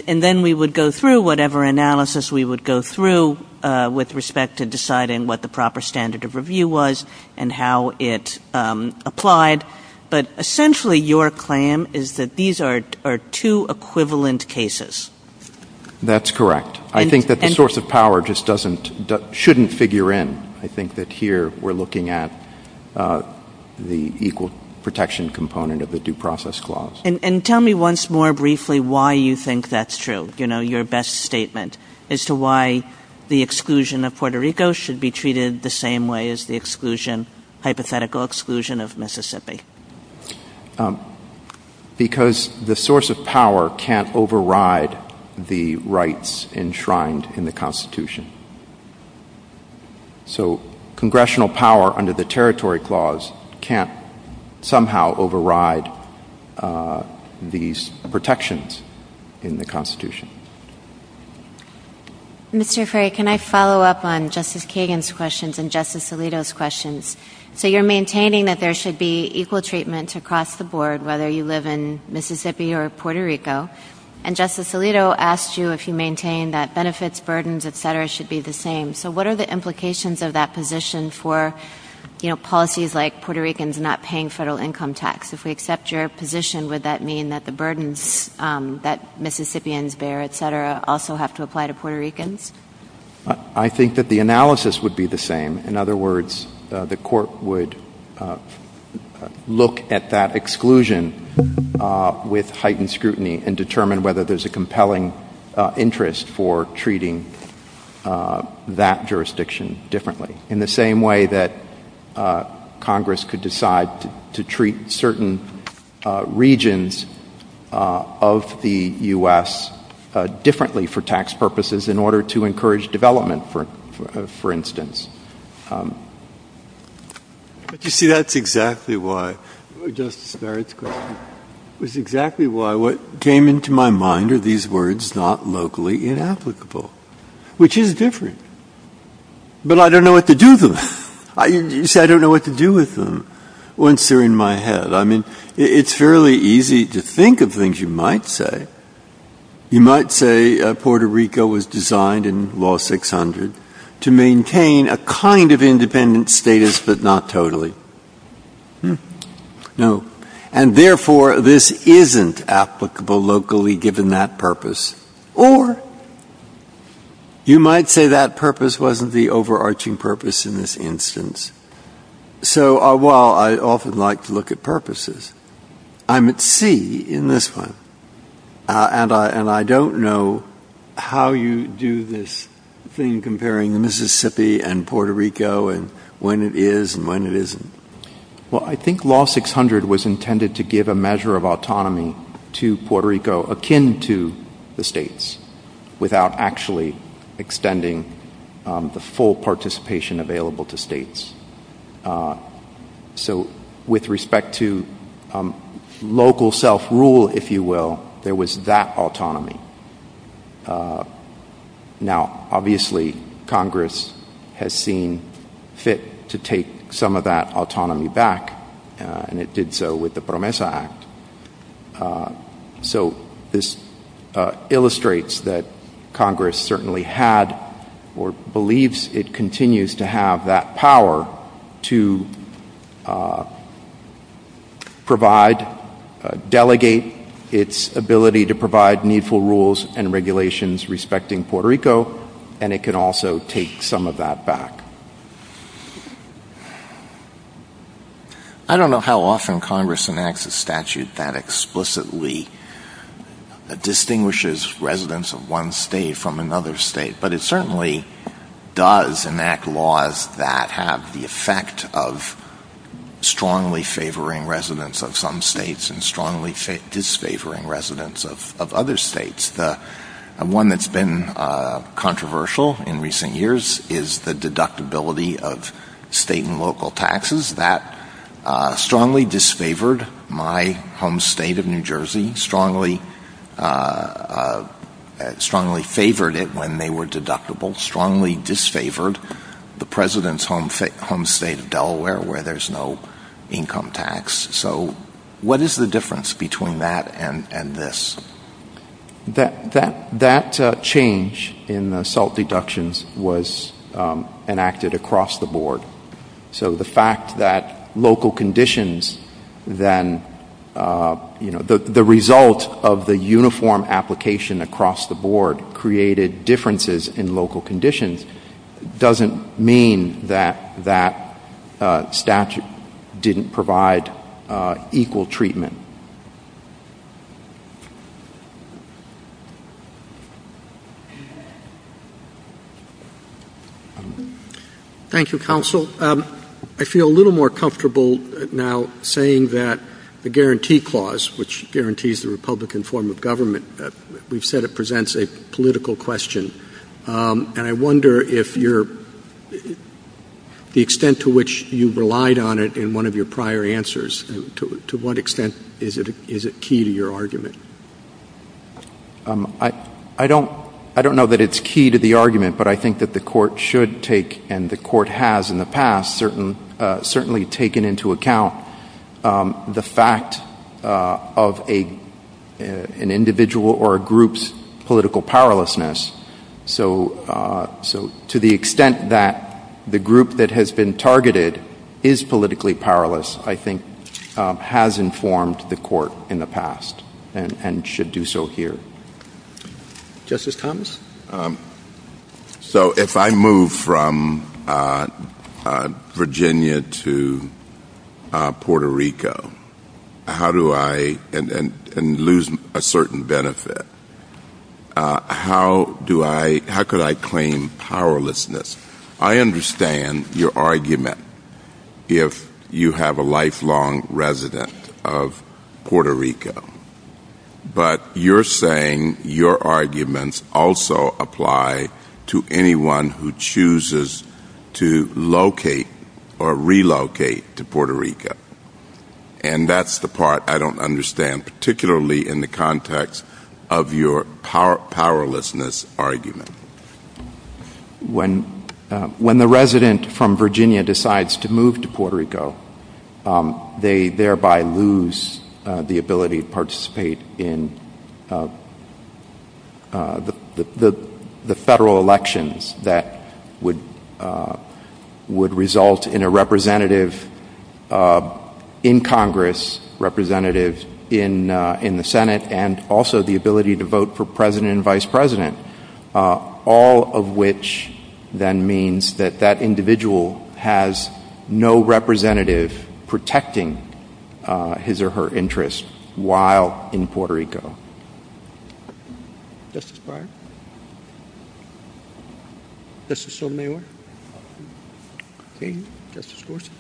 And then we would go through whatever analysis we would go through with respect to deciding what the proper standard of review was and how it applied, but essentially your claim is that these are two equivalent cases. That's correct. I think that the source of power just shouldn't figure in. I think that here we're looking at the equal protection component of the Due Process Clause. And tell me once more briefly why you think that's true, you know, your best statement as to why the exclusion of Puerto Rico should be treated the same way as the hypothetical exclusion of Mississippi. Because the source of power can't override the rights enshrined in the Constitution. So Congressional power under the Territory Clause can't somehow override these protections in the Constitution. Mr. Frey, can I follow up on Justice Kagan's questions and Justice Alito's questions? So you're maintaining that there should be equal treatment across the board, whether you live in Mississippi or Puerto Rico. And Justice Alito asked you if you maintain that benefits, burdens, et cetera, should be the same. So what are the implications of that position for, you know, policies like Puerto Ricans not paying federal income tax? If we accept your position, would that mean that the burdens that Mississippians bear, et cetera, also have to apply to Puerto Ricans? I think that the analysis would be the same. In other words, the court would look at that exclusion with heightened scrutiny and determine whether there's a compelling interest for treating that jurisdiction differently, in the same way that Congress could decide to treat certain regions of the U.S. differently for tax purposes in order to make sure that you encourage development, for instance. But you see, that's exactly why, Justice Frey's question, that's exactly why what came into my mind are these words, not locally inapplicable, which is different. But I don't know what to do with them. You see, I don't know what to do with them once they're in my head. I mean, it's fairly easy to think of things you might say. You might say Puerto Rico was designed in Law 600 to maintain a kind of independent status, but not totally. No. And therefore, this isn't applicable locally, given that purpose. Or you might say that purpose wasn't the overarching purpose in this instance. So while I often like to look at purposes, I'm at sea in this one. And I don't know how you do this thing comparing Mississippi and Puerto Rico, and when it is and when it isn't. Well, I think Law 600 was intended to give a measure of autonomy to Puerto Rico, akin to the states, without actually extending the full participation available to states. So with respect to local self-rule, if you will, there was that autonomy. Now obviously, Congress has seen fit to take some of that autonomy back, and it did so with the PROMESA Act. So this illustrates that Congress certainly had or believes it continues to have that power to provide, delegate its ability to provide needful rules and regulations respecting Puerto Rico, and it could also take some of that back. I don't know how often Congress enacts a statute that explicitly distinguishes residents of one state from another state, but it certainly does enact laws that have the effect of strongly disfavoring the president's home state of Delaware, where there's no income tax. So what is the difference between that and this? That change in the assault deductions was enacted across the board. So the fact that local conditions then, you know, the result of the uniform application across the board created differences in local conditions doesn't mean that that statute didn't provide the equal treatment. Thank you, Counsel. I feel a little more comfortable now saying that the Guarantee Clause, which guarantees the Republican form of government, we've said it presents a political question, and I wonder if the extent to which you relied on it in one of your prior answers to what extent is it key to your argument. I don't know that it's key to the argument, but I think that the Court should take, and the Court has in the past, certainly taken into account the fact of an individual or a group's political powerlessness. So to the extent that the group that has been targeted is politically powerless, I think, has informed the Court in the past and should do so here. Justice Thomas? So if I move from Virginia to Puerto Rico, how do I, and lose a certain benefit, how could I claim powerlessness? I understand your argument if you have a lifelong resident of Puerto Rico, but you're saying your arguments also apply to anyone who chooses to locate or relocate to Puerto Rico, and that's the part I don't understand, particularly in the case of this argument. When the resident from Virginia decides to move to Puerto Rico, they thereby lose the ability to participate in the federal elections that would result in a representative in Congress, representative in the Senate, and also the ability to vote for president and vice president, all of which then means that that individual has no representative protecting his or her interests while in Puerto Rico. Justice Breyer? Justice O'Meara? Okay. Justice Gorsuch?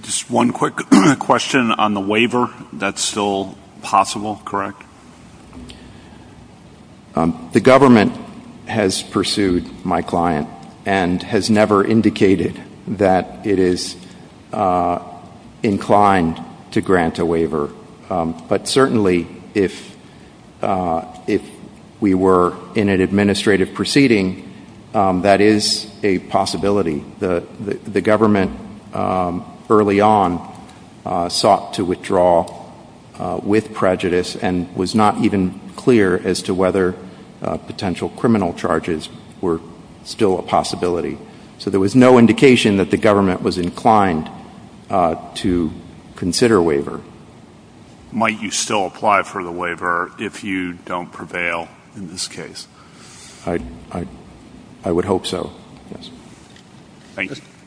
Just one quick question on the waiver. That's still possible, correct? The government has pursued my client and has never indicated that it is inclined to grant a waiver, but certainly if we were in an administrative proceeding, that is a possibility. The government early on sought to withdraw with prejudice and was not even clear as to whether potential criminal charges were still a possibility. So there was no indication that the government was inclined to consider a waiver. Might you still apply for the waiver if you don't prevail in this case? I would hope so, yes.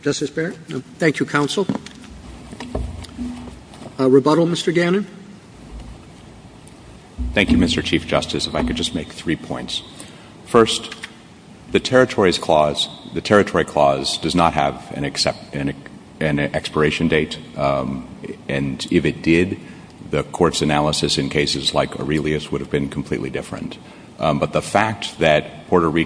Justice Breyer? Thank you, counsel. Rebuttal, Mr. Gannon? Thank you, Mr. Chief Justice. If I could just make three points. First, the Territories Clause, the Territory Clause does not have an expiration date, and if it did, the court's analysis in cases like Aurelius would have been completely different. But the fact that we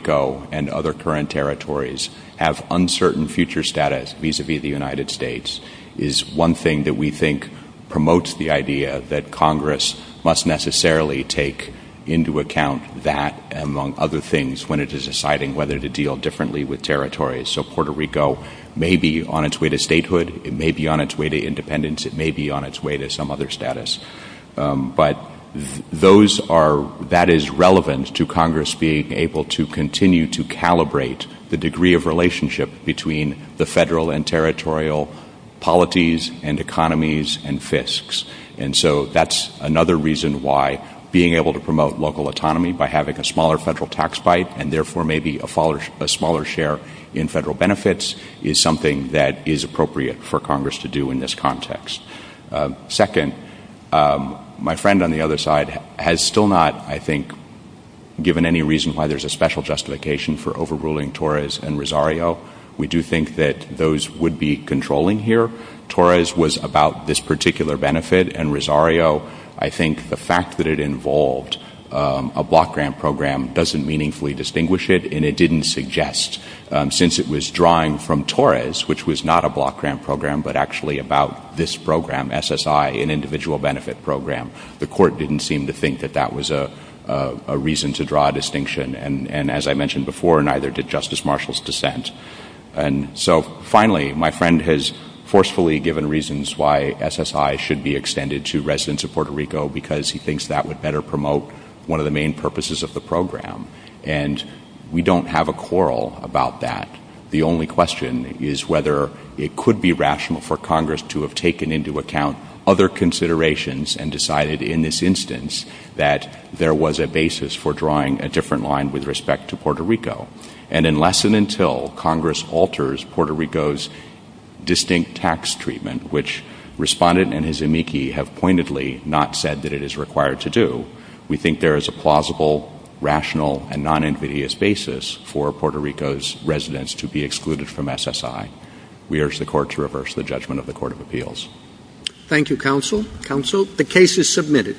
have uncertain future status vis-a-vis the United States is one thing that we think promotes the idea that Congress must necessarily take into account that, among other things, when it is deciding whether to deal differently with territories. So Puerto Rico may be on its way to statehood, it may be on its way to independence, it may be on its way to some other status. But that is relevant to Congress being able to continue to calibrate the degree of relationship between the federal and territorial polities and economies and fiscs. And so that's another reason why being able to promote local autonomy by having a smaller federal tax bite and therefore maybe a smaller share in federal benefits is something that is appropriate for Congress to do in this context. Second, my friend on the other side has still not, I think, given any reason why there's a special justification for overruling Torres and Rosario. We do think that those would be controlling here. Torres was about this particular benefit, and Rosario, I think the fact that it involved a block grant program doesn't meaningfully distinguish it, and it didn't suggest. Since it was drawing from Torres, which was not a block grant program but actually about this program, SSI, an individual benefit program, the court didn't seem to think that that was a reason to draw a distinction. And as I mentioned before, neither did Justice Marshall's dissent. And so finally, my friend has forcefully given reasons why SSI should be extended to residents of Puerto Rico because he thinks that would better promote one of the main purposes of the program. And we don't have a quarrel about that. The only question is whether it could be rational for Congress to have taken into account other considerations and decided in this instance that there was a basis for drawing a different line with respect to Puerto Rico. And unless and until Congress alters Puerto Rico's distinct tax treatment, which Respondent and his amici have pointedly not said that it is required to do, we think there is a plausible, rational, and non-envious basis for Puerto Rico's residents to be excluded from SSI. We urge the Court to reverse the judgment of the Court of Appeals. Thank you, Counsel. Counsel, the case is submitted.